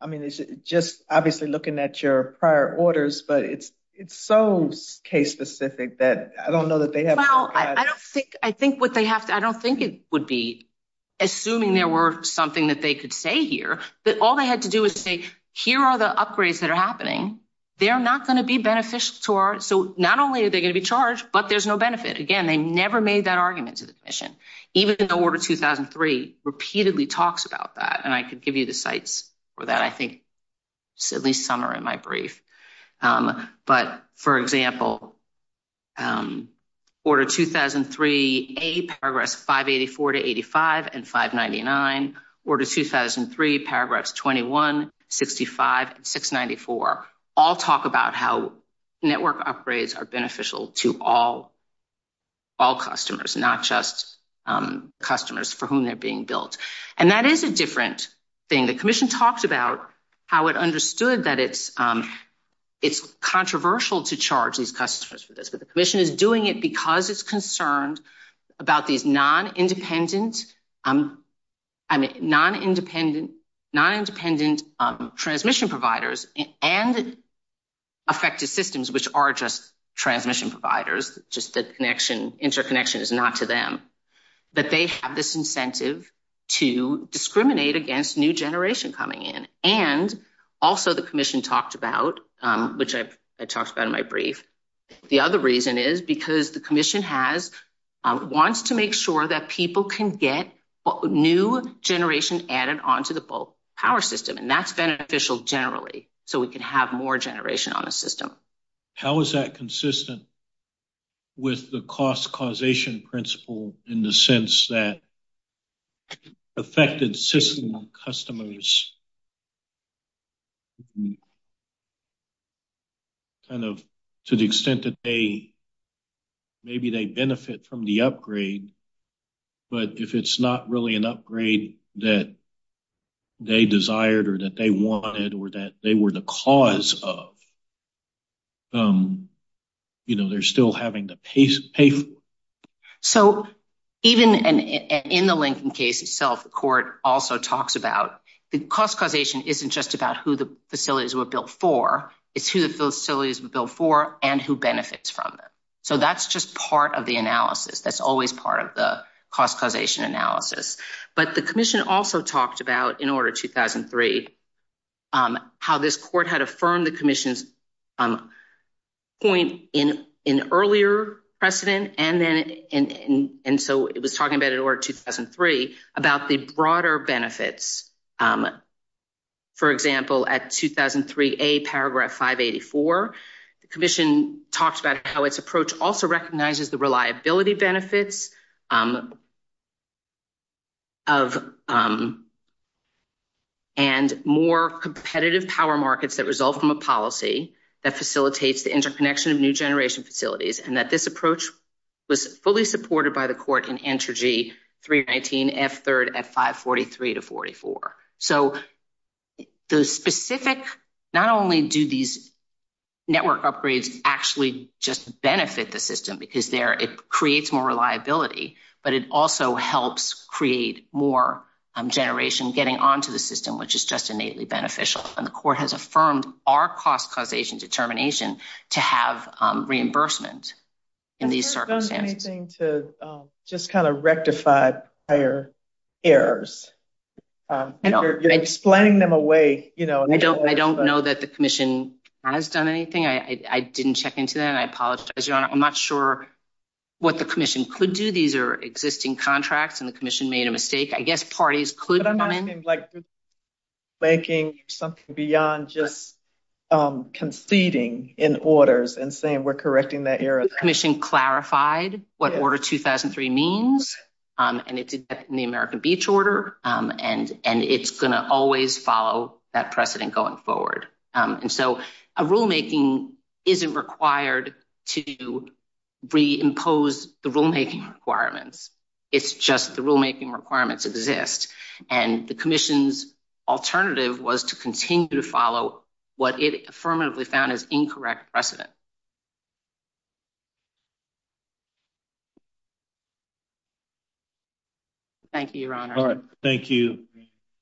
I mean, it's just obviously looking at your prior orders, but it's, it's so case specific that I don't know that they have. I think what they have. I don't think it would be. Assuming there were something that they could say here, but all they had to do is say, here are the upgrades that are happening. They're not going to be beneficial to our. So, not only are they going to be charged, but there's no benefit again. They never made that argument to the mission, even though order 2003 repeatedly talks about that. And I could give you the sites for that. I think at least summer in my brief. But, for example, order 2003, a progress 584 to 85 and 599 order 2003 paragraphs, 2165, 694 all talk about how network upgrades are beneficial to all. All customers, not just customers for whom they're being built and that is a different. Being a commission talked about how it understood that it's, it's controversial to charge these customers for this, but the commission is doing it because it's concerned about these non independent. I'm. I mean, non independent, non independent transmission providers and. Effective systems, which are just transmission providers, just the connection interconnection is not to them. But they have this incentive to discriminate against new generation coming in and also the commission talked about, which I've talked about in my brief. The other reason is because the commission has wants to make sure that people can get new generation added onto the power system and that's beneficial generally. So we can have more generation on a system. How is that consistent? With the cost causation principle in the sense that. Affected system customers. To the extent that they, maybe they benefit from the upgrade. But if it's not really an upgrade that. They desired, or that they wanted, or that they were the cause of. You know, they're still having the pace. So, even in the Lincoln case itself, the court also talks about the cost causation isn't just about who the facilities were built for. It's who those facilities before and who benefits from it. So, that's just part of the analysis. That's always part of the cost causation analysis, but the commission also talked about in order 2003. How this court had affirmed the commission. Point in an earlier precedent, and then, and so it was talking about it or 2003 about the broader benefits. For example, at 2003, a paragraph 584, the commission talks about how its approach also recognizes the reliability benefits. Of. And more competitive power markets that result from a policy that facilitates the interconnection of new generation facilities and that this approach. Was fully supported by the court and energy 319 F3 at 543 to 44. So. The specific not only do these. Network upgrades actually just benefit the system, because there, it creates more reliability, but it also helps create more generation getting onto the system, which is just innately beneficial. And the court has affirmed our cost causation determination to have reimbursement. In these services, anything to just kind of rectify higher. Errors explaining them away. I don't know that the commission has done anything. I didn't check into that. I apologize. I'm not sure. What the commission could do, these are existing contracts and the commission made a mistake. I guess parties could like. Making something beyond just. Conceding in orders and saying, we're correcting that commission clarified what order 2003 means. And it's in the American beach order and it's going to always follow that precedent going forward. And so a rulemaking. Isn't required to do. We impose the rulemaking requirements. It's just the rulemaking requirements exist and the commission's alternative was to continue to follow. What it permanently found is incorrect precedent. Thank you. Thank you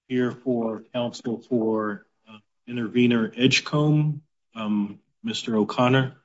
here for counsel for intervener edge. Mr. O'Connor. Thank you.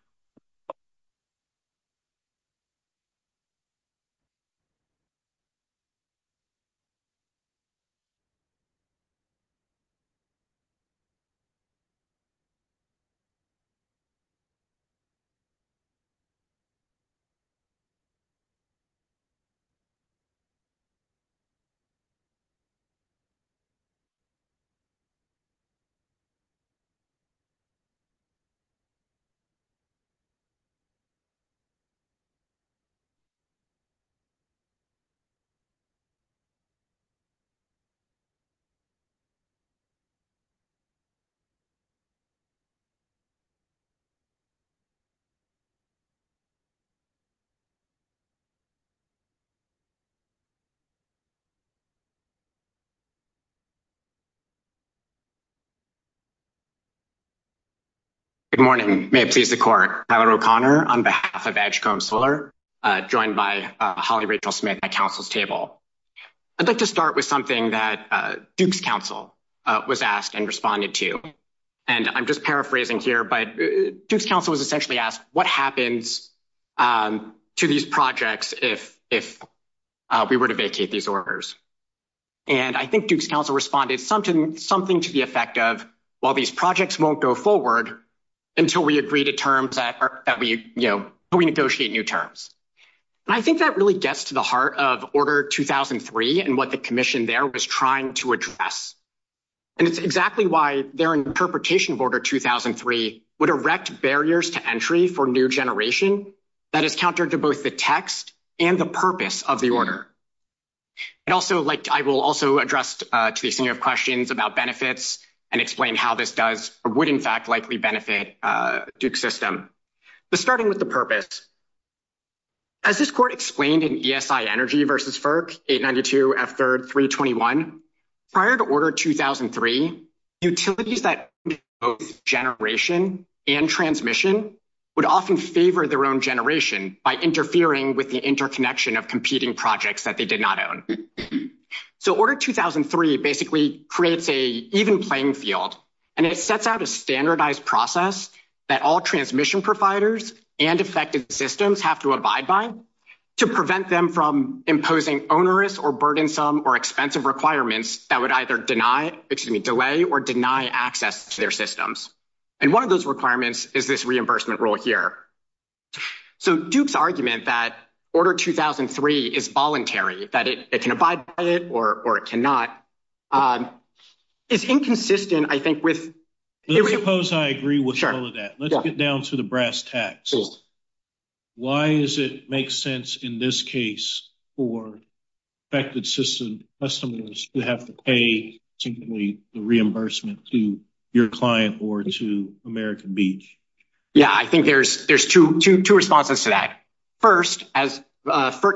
Good morning. Please the court Connor on behalf of solar. I'd like to start with something that council was asked and responded to. And I'm just paraphrasing here, but council was essentially asked what happens. To these projects, if, if. We were to vacate these orders. And I think council responded something, something to the effect of. I think that really gets to the heart of order 2003 and what the commission there was trying to address. And it's exactly why their interpretation border 2003 would erect barriers to entry for new generation. That is countered to both the text and the purpose of the order. And also, like, I will also addressed to the senior questions about benefits. And explain how this does, or would, in fact, likely benefit system. But starting with the purpose. As this court explained in energy versus. Prior to order 2003. Utilities that generation and transmission. Would often favor their own generation by interfering with the interconnection of competing projects that they did not own. So, order 2003 basically creates a even playing field. And it sets out a standardized process that all transmission providers and effective systems have to abide by. To prevent them from imposing onerous or burdensome or expensive requirements that would either deny, excuse me, delay, or deny access to their systems. And 1 of those requirements is this reimbursement role here. So, Duke's argument that order 2003 is voluntary that it can abide by it, or it cannot. It's inconsistent, I think, with. Suppose I agree with that. Let's get down to the brass tacks. Why does it make sense in this case for. Effective system customers to have to pay to reimbursement to your client or to American beach. Yeah, I think there's, there's 2 responses to that. 1st, as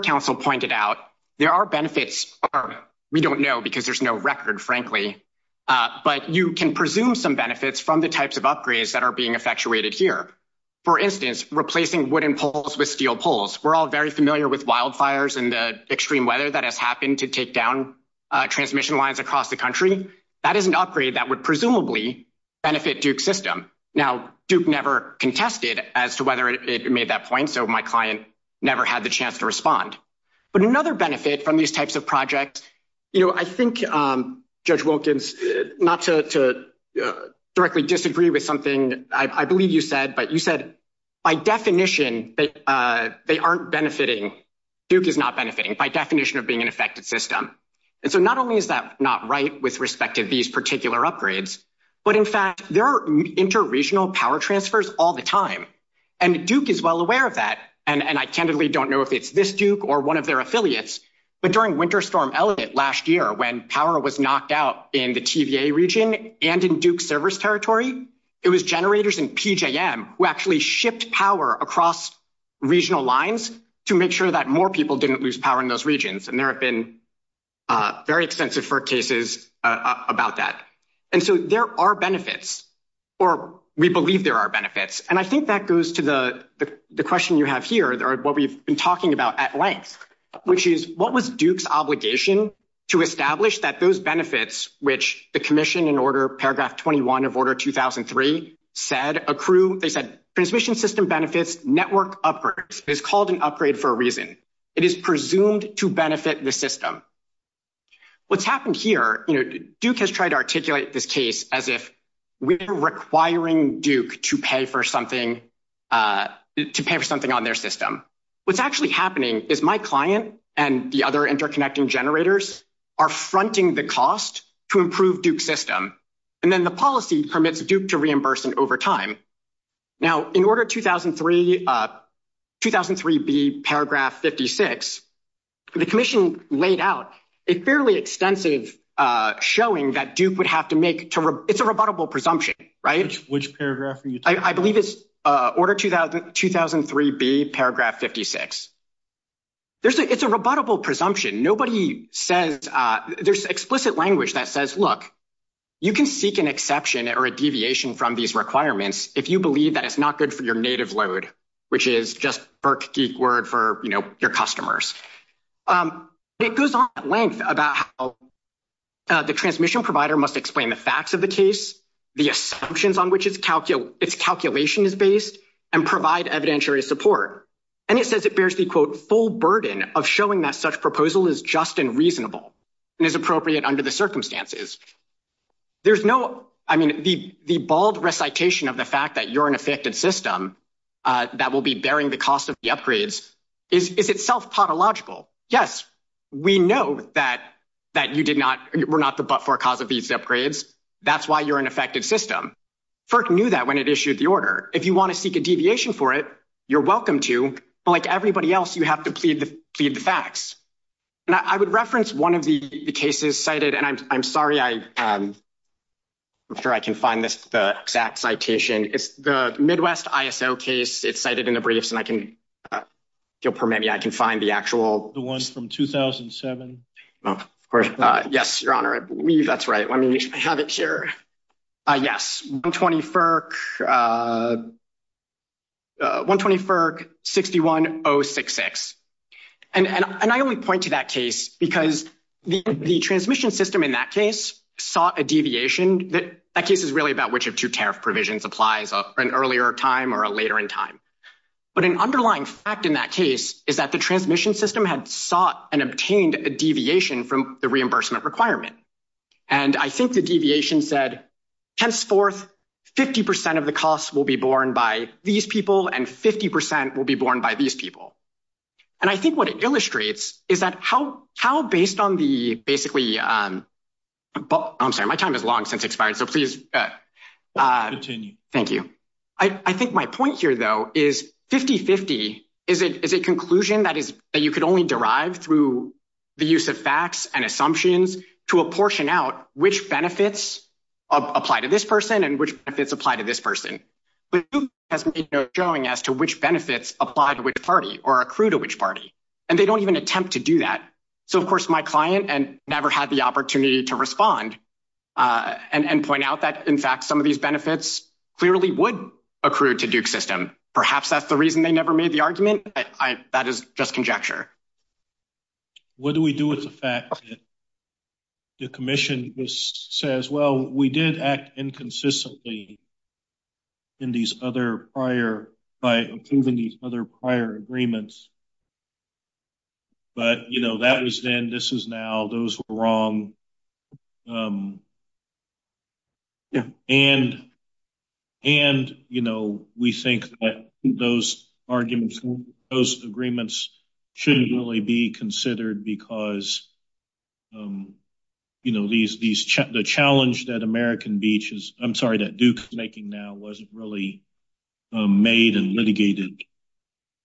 council pointed out, there are benefits. We don't know because there's no record, frankly. But you can presume some benefits from the types of upgrades that are being effectuated here. For instance, replacing wooden poles with steel poles. We're all very familiar with wildfires and the extreme weather that has happened to take down transmission lines across the country. That is an upgrade that would presumably benefit system. Now, Duke never contested as to whether it made that point. So my client never had the chance to respond. But another benefit from these types of projects. You know, I think judge Wilkins, not to directly disagree with something I believe you said, but you said. By definition, they aren't benefiting. Duke is not benefiting by definition of being an effective system. And so not only is that not right with respect to these particular upgrades. But, in fact, there are inter regional power transfers all the time. And Duke is well aware of that. And I can't really don't know if it's this Duke or 1 of their affiliates. But during winter storm last year, when power was knocked out in the TVA region and in Duke service territory. It was generators and P. J. M. who actually shipped power across. Regional lines to make sure that more people didn't lose power in those regions. And there have been. Very extensive for cases about that. And so there are benefits. Or we believe there are benefits, and I think that goes to the question you have here. There are what we've been talking about at length, which is what was Duke's obligation to establish that those benefits, which the commission in order paragraph 21 of order 2003 said a crew. They said transmission system benefits network up is called an upgrade for a reason. It is presumed to benefit the system. What's happened here? Duke has tried to articulate this case as if we're requiring Duke to pay for something to pay for something on their system. What's actually happening is my client and the other interconnecting generators are fronting the cost to improve Duke system. And then the policy permits Duke to reimbursing over time. Now, in order 2003, 2003, be paragraph 56. The commission laid out a fairly extensive showing that Duke would have to make it's a rebuttable presumption, right? Which paragraph? I believe it's order 2003 be paragraph 56. It's a rebuttable presumption. Nobody says there's explicit language that says, look, you can seek an exception or a deviation from these requirements. If you believe that it's not good for your native load, which is just Burke word for your customers. It goes on at length about the transmission provider must explain the facts of the case, the assumptions on which it's calculation is based and provide evidentiary support. And it says it bears the full burden of showing that such proposal is just and reasonable and is appropriate under the circumstances. There's no, I mean, the, the bald recitation of the fact that you're an effective system. That will be bearing the cost of the upgrades. If it's self-taught illogical, yes, we know that. That you did not, we're not the, but for a cause of these upgrades, that's why you're an effective system. Kirk knew that when it issued the order, if you want to seek a deviation for it, you're welcome to like everybody else. You have to plead the facts. And I would reference 1 of the cases cited, and I'm sorry, I'm sure I can find this exact citation. It's the Midwest ISO case. It's cited in the briefs and I can permit me. I can find the actual the 1 from 2007. Of course, yes, your honor. That's right. Let me have it here. Yes, 20 for. 120 for 6106. And I would point to that case, because the transmission system in that case, saw a deviation that that case is really about which of 2 tariff provisions applies an earlier time or a later in time. But an underlying fact in that case is that the transmission system had sought and obtained a deviation from the reimbursement requirement. And I think the deviation said, henceforth, 50% of the costs will be borne by these people and 50% will be borne by these people. And I think what it illustrates is that how how, based on the basically. I'm sorry, my time is long since expired, so please continue. Thank you. I think my point here, though, is 5050 is a conclusion that is that you could only derive through the use of facts and assumptions to a portion out which benefits apply to this person and which apply to this person. Showing as to which benefits apply to which party or accrue to which party and they don't even attempt to do that. So, of course, my client and never had the opportunity to respond and point out that. In fact, some of these benefits clearly would accrue to Duke system. Perhaps that's the reason they never made the argument. That is just conjecture. What do we do with the fact? The commission says, well, we did act inconsistently. In these other prior by approving these other prior agreements. But that was then this is now those wrong. And, and, you know, we think that those arguments, those agreements. Shouldn't really be considered because. You know, these, these check the challenge that American beaches, I'm sorry that Duke making now wasn't really made and litigated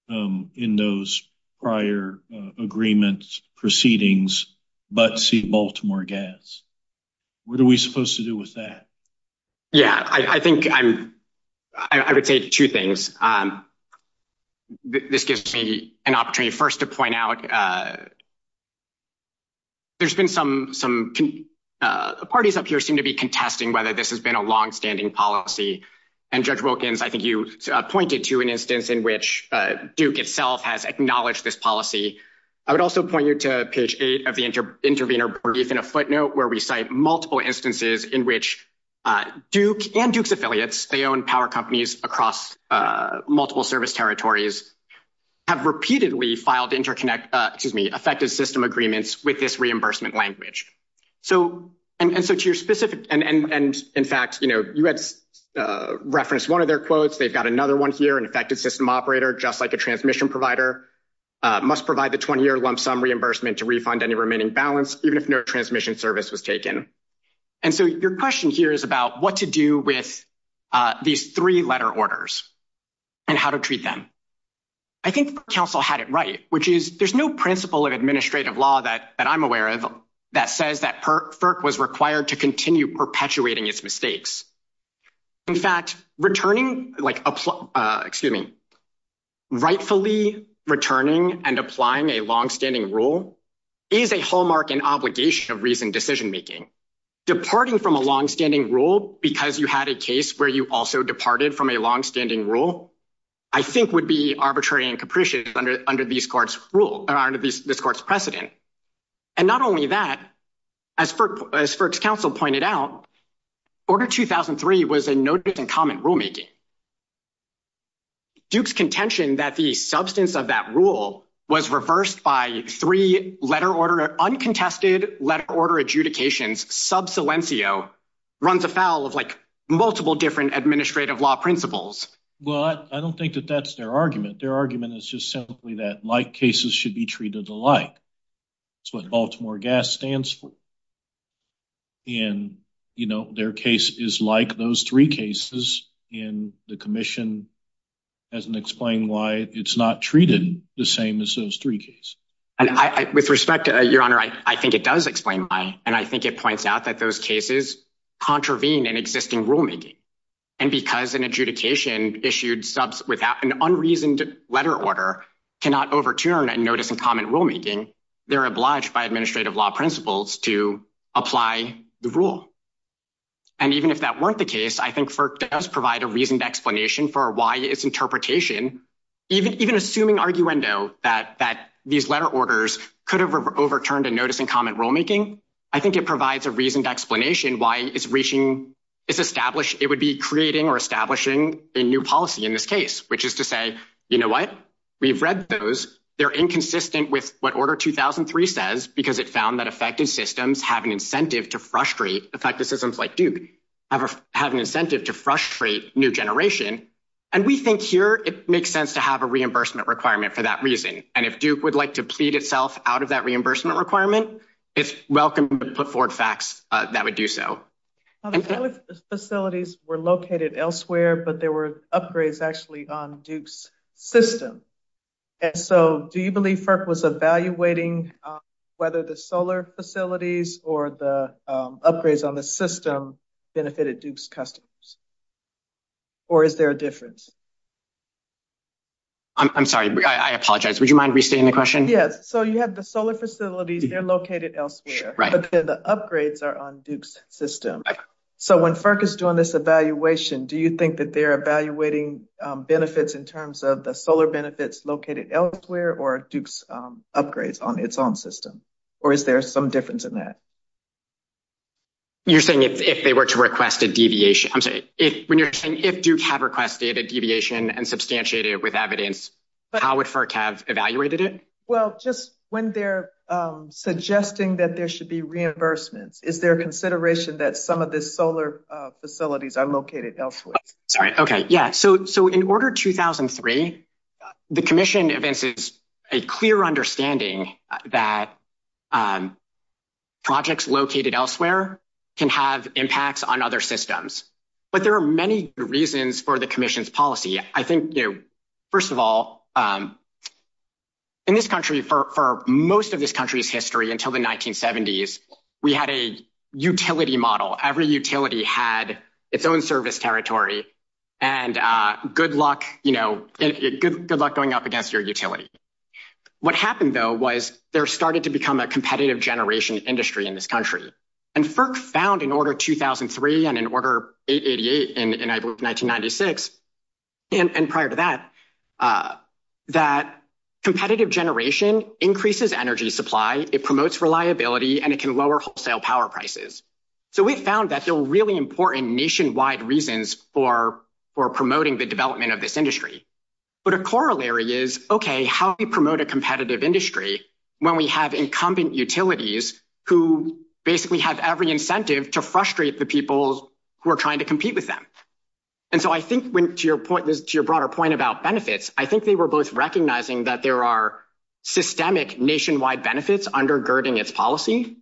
in those prior agreements proceedings, but see Baltimore gas. What are we supposed to do with that? Yeah, I think I'm. I would say 2 things. This gives me an opportunity 1st to point out. There's been some some parties up here seem to be contesting whether this has been a long standing policy. And I think you pointed to an instance in which Duke itself has acknowledged this policy. I would also point you to page 8 of the intervener in a footnote where we cite multiple instances in which Duke and Duke's affiliates, they own power companies across multiple service territories. Have repeatedly filed interconnect, excuse me, effective system agreements with this reimbursement language. So, and so to your specific and in fact, you had referenced 1 of their quotes, they've got another 1 here and effective system operator, just like a transmission provider. Must provide the 20 year lump sum reimbursement to refund any remaining balance, even if no transmission service was taken. And so your question here is about what to do with. These 3 letter orders and how to treat them. I think counsel had it right, which is there's no principle of administrative law that I'm aware of that says that was required to continue perpetuating its mistakes. In fact, returning, excuse me. Rightfully returning and applying a long standing rule. Is a hallmark and obligation of reason decision making. Departing from a long standing rule, because you had a case where you also departed from a long standing rule. I think would be arbitrary and capricious under under these courts rule under this court's precedent. And not only that. As for council pointed out. Order 2003 was a notice in common rulemaking. Duke's contention that the substance of that rule was reversed by 3 letter order uncontested letter order adjudications. Runs afoul of, like, multiple different administrative law principles. Well, I don't think that that's their argument. Their argument is just simply that like cases should be treated the like. So, in Baltimore gas stands. And, you know, their case is like those 3 cases in the commission. As an explain why it's not treated the same as those 3 cases. And I, with respect to your honor, I think it does explain why and I think it points out that those cases. Contravene an existing rulemaking and because an adjudication issued with an unreasoned letter order. Cannot overturn a notice in common rulemaking. They're obliged by administrative law principles to apply the rule. And even if that weren't the case, I think, for us, provide a reason to explanation for why it's interpretation. Even even assuming argue and know that that these letter orders could have overturned a notice in common rulemaking. I think it provides a reason to explanation why it's reaching. It would be creating or establishing a new policy in this case, which is to say, you know, what we've read those. They're inconsistent with what order 2003 says, because it found that effective systems have an incentive to frustrate. It's like the systems like, dude, have an incentive to frustrate new generation. And we think here, it makes sense to have a reimbursement requirement for that reason. And if Duke would like to plead itself out of that reimbursement requirement, it's welcome to put forward facts that would do so. The facilities were located elsewhere, but there were upgrades actually on Duke's system. And so do you believe FERC was evaluating whether the solar facilities or the upgrades on the system benefited Duke's customers? Or is there a difference? I'm sorry, I apologize. Would you mind restating the question? Yes, so you have the solar facilities, they're located elsewhere, but the upgrades are on Duke's system. So when FERC is doing this evaluation, do you think that they're evaluating benefits in terms of the solar benefits located elsewhere or Duke's upgrades on its own system? Or is there some difference in that? You're saying if they were to request a deviation, I'm sorry. When you're saying if Duke have requested a deviation and substantiated it with evidence, how would FERC have evaluated it? Well, just when they're suggesting that there should be reimbursement, is there consideration that some of the solar facilities are located elsewhere? Okay, yeah. So in Order 2003, the Commission advances a clear understanding that projects located elsewhere can have impacts on other systems. But there are many reasons for the Commission's policy. I think, first of all, in this country, for most of this country's history until the 1970s, we had a utility model. Every utility had its own service territory, and good luck going up against your utility. What happened, though, was there started to become a competitive generation industry in this country. And FERC found in Order 2003 and in Order 888 in, I believe, 1996, and prior to that, that competitive generation increases energy supply, it promotes reliability, and it can lower wholesale power prices. So we found that there are really important nationwide reasons for promoting the development of this industry. But a corollary is, okay, how do you promote a competitive industry when we have incumbent utilities who basically have every incentive to frustrate the people who are trying to compete with them? And so I think, to your broader point about benefits, I think they were both recognizing that there are systemic nationwide benefits undergirding its policy.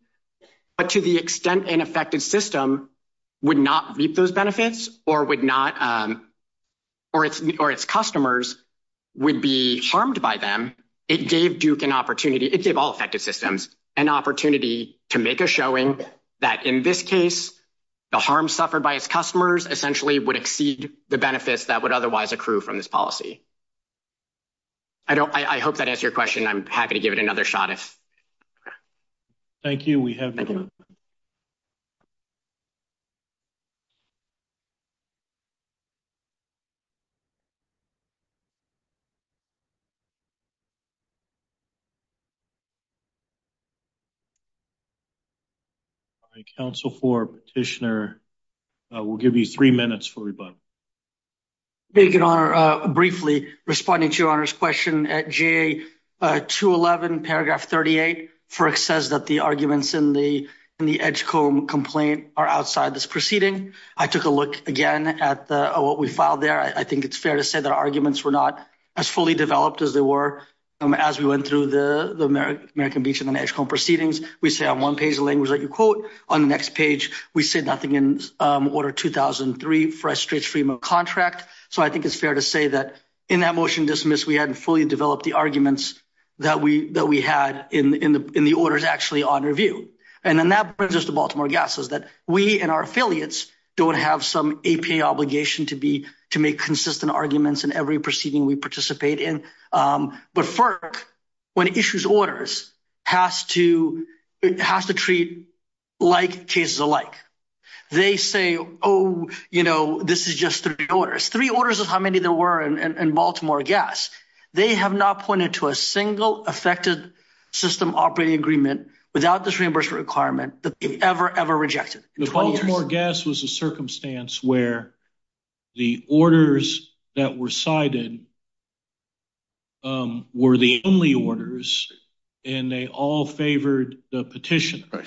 But to the extent an effective system would not meet those benefits or would not – or its customers would be harmed by them, it gave Duke an opportunity – it gave all effective systems an opportunity to make a showing that, in this case, the harm suffered by its customers essentially would exceed the benefits that would otherwise accrue from this policy. I hope that answers your question. I'm happy to give it another shot. Thank you. We have your question. All right, Council for Petitioner, we'll give you three minutes for rebuttal. Thank you, Your Honor. Briefly, responding to Your Honor's question, at GA 211, paragraph 38, FERC says that the arguments in the Edgecombe complaint are outside this proceeding. I took a look again at what we filed there. I think it's fair to say the arguments were not as fully developed as they were as we went through the American Beach and the Edgecombe proceedings. We say on one page the language that you quote. On the next page, we say nothing in Order 2003 for a strict freedom of contract. So I think it's fair to say that in that motion dismissed, we hadn't fully developed the arguments that we had in the orders actually on review. And that brings us to Baltimore Gas, is that we and our affiliates don't have some APA obligation to be – to make consistent arguments in every proceeding we participate in. But FERC, when it issues orders, has to treat like cases alike. They say, oh, you know, this is just three orders. Three orders is how many there were in Baltimore Gas. They have not pointed to a single affected system operating agreement without this reimbursement requirement that they've ever, ever rejected. Baltimore Gas was a circumstance where the orders that were cited were the only orders, and they all favored the petition. But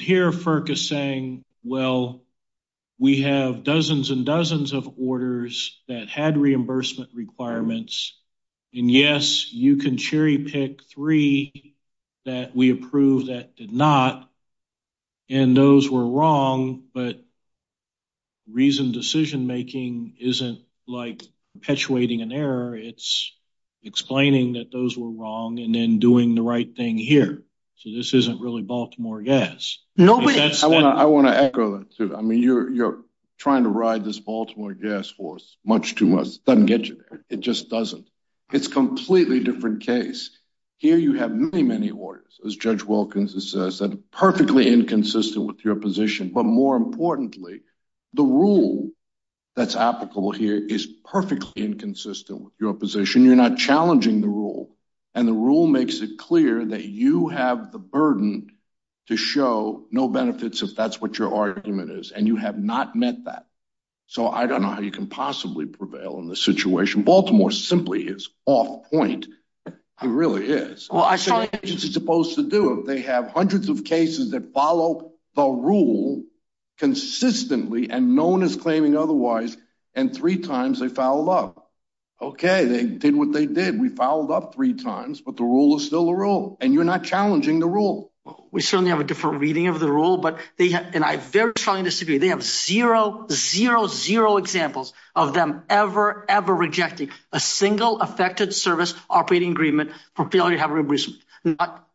here, FERC is saying, well, we have dozens and dozens of orders that had reimbursement requirements. And yes, you can cherry pick three that we approve that did not, and those were wrong. But reasoned decision-making isn't like perpetuating an error. It's explaining that those were wrong and then doing the right thing here. So this isn't really Baltimore Gas. I want to echo that, too. I mean, you're trying to ride this Baltimore Gas horse much too much. It doesn't get you there. It just doesn't. It's a completely different case. Here you have many, many orders, as Judge Wilkins has said, perfectly inconsistent with your position. But more importantly, the rule that's applicable here is perfectly inconsistent with your position. You're not challenging the rule, and the rule makes it clear that you have the burden to show no benefits if that's what your argument is, and you have not met that. So I don't know how you can possibly prevail in this situation. Baltimore simply is off point. It really is. What is your agency supposed to do if they have hundreds of cases that follow the rule consistently and no one is claiming otherwise, and three times they fouled up? Okay, they did what they did. We fouled up three times, but the rule is still the rule, and you're not challenging the rule. We certainly have a different reading of the rule, and I very strongly disagree. They have zero, zero, zero examples of them ever, ever rejecting a single affected service operating agreement for failure to have reimbursement.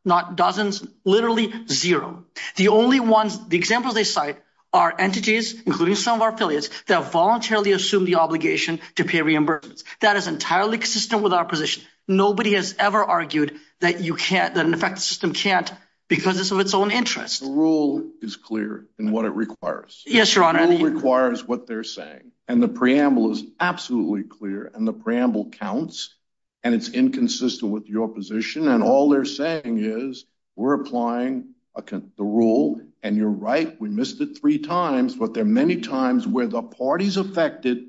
Not dozens, literally zero. The only ones, the examples they cite are entities, including some of our affiliates, that voluntarily assume the obligation to pay reimbursements. That is entirely consistent with our position. Nobody has ever argued that an affected system can't because it's of its own interest. The rule is clear in what it requires. Yes, Your Honor. The rule requires what they're saying, and the preamble is absolutely clear, and the preamble counts, and it's inconsistent with your position, and all they're saying is we're applying the rule, and you're right. We missed it three times, but there are many times where the parties affected,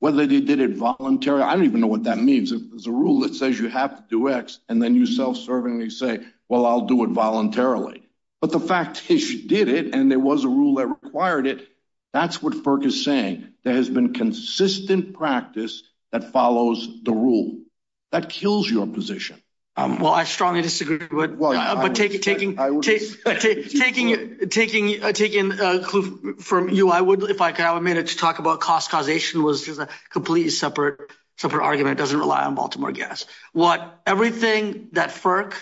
whether they did it voluntarily. I don't even know what that means. It's a rule that says you have to do X, and then you self-servingly say, well, I'll do it voluntarily. But the fact that you did it, and there was a rule that required it, that's what FERC is saying. There has been consistent practice that follows the rule. That kills your position. Well, I strongly disagree with it. But taking a clue from you, I would, if I could, I would make it to talk about cost causation was a completely separate argument. It doesn't rely on Baltimore gas. Everything that FERC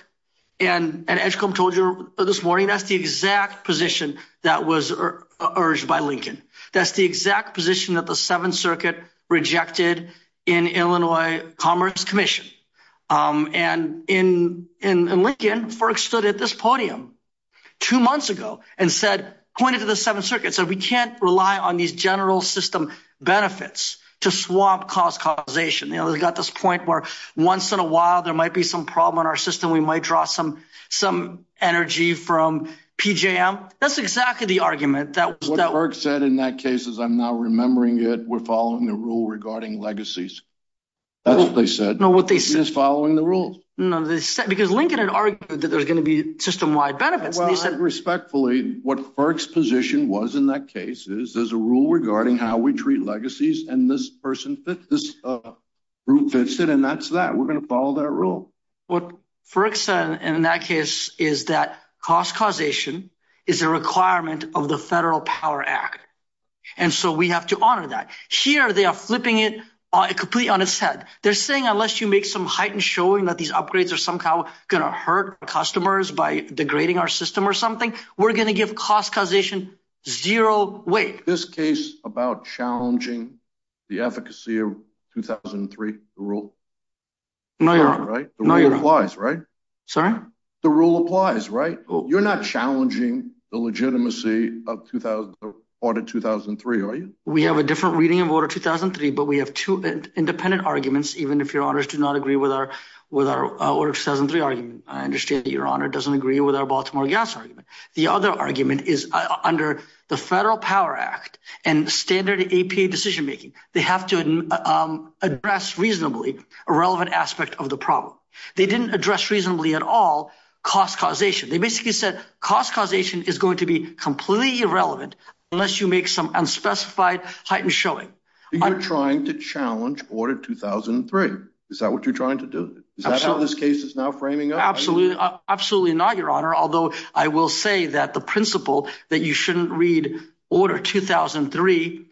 and Edgecombe told you this morning, that's the exact position that was urged by Lincoln. That's the exact position that the Seventh Circuit rejected in Illinois Commerce Commission. And in Lincoln, FERC stood at this podium two months ago and said, pointed to the Seventh Circuit, said we can't rely on these general system benefits to swap cost causation. They've got this point where once in a while there might be some problem in our system, we might draw some energy from PJM. That's exactly the argument. What FERC said in that case is I'm not remembering it. We're following the rule regarding legacies. That's what they said. No, what they said. Just following the rules. No, because Lincoln had argued that there was going to be system-wide benefits. Respectfully, what FERC's position was in that case is there's a rule regarding how we treat legacies, and this person, this group fits it, and that's that. We're going to follow that rule. What FERC said in that case is that cost causation is a requirement of the Federal Power Act. And so we have to honor that. Here they are flipping it completely on its head. They're saying unless you make some heightened showing that these upgrades are somehow going to hurt customers by degrading our system or something, we're going to give cost causation zero weight. This case about challenging the efficacy of 2003, the rule applies, right? Sorry? The rule applies, right? You're not challenging the legitimacy of Order 2003, are you? We have a different reading of Order 2003, but we have two independent arguments, even if your honors do not agree with our Order 2003 argument. I understand that your honor doesn't agree with our Baltimore gas argument. The other argument is under the Federal Power Act and standard APA decision-making, they have to address reasonably a relevant aspect of the problem. They didn't address reasonably at all cost causation. They basically said cost causation is going to be completely irrelevant unless you make some unspecified heightened showing. You're trying to challenge Order 2003. Is that what you're trying to do? Is that how this case is now framing up? Absolutely not, your honor. Although I will say that the principle that you shouldn't read Order 2003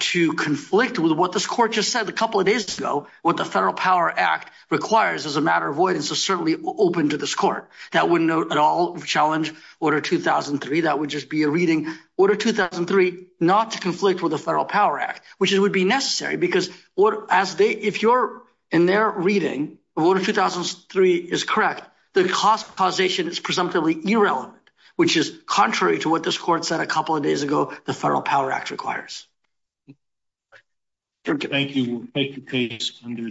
to conflict with what this court just said a couple of days ago, what the Federal Power Act requires as a matter of avoidance is certainly open to this court. That wouldn't at all challenge Order 2003. That would just be a reading Order 2003 not to conflict with the Federal Power Act, which would be necessary. If you're in their reading, Order 2003 is correct. The cost causation is presumptively irrelevant, which is contrary to what this court said a couple of days ago the Federal Power Act requires. Thank you. Take your case under advise.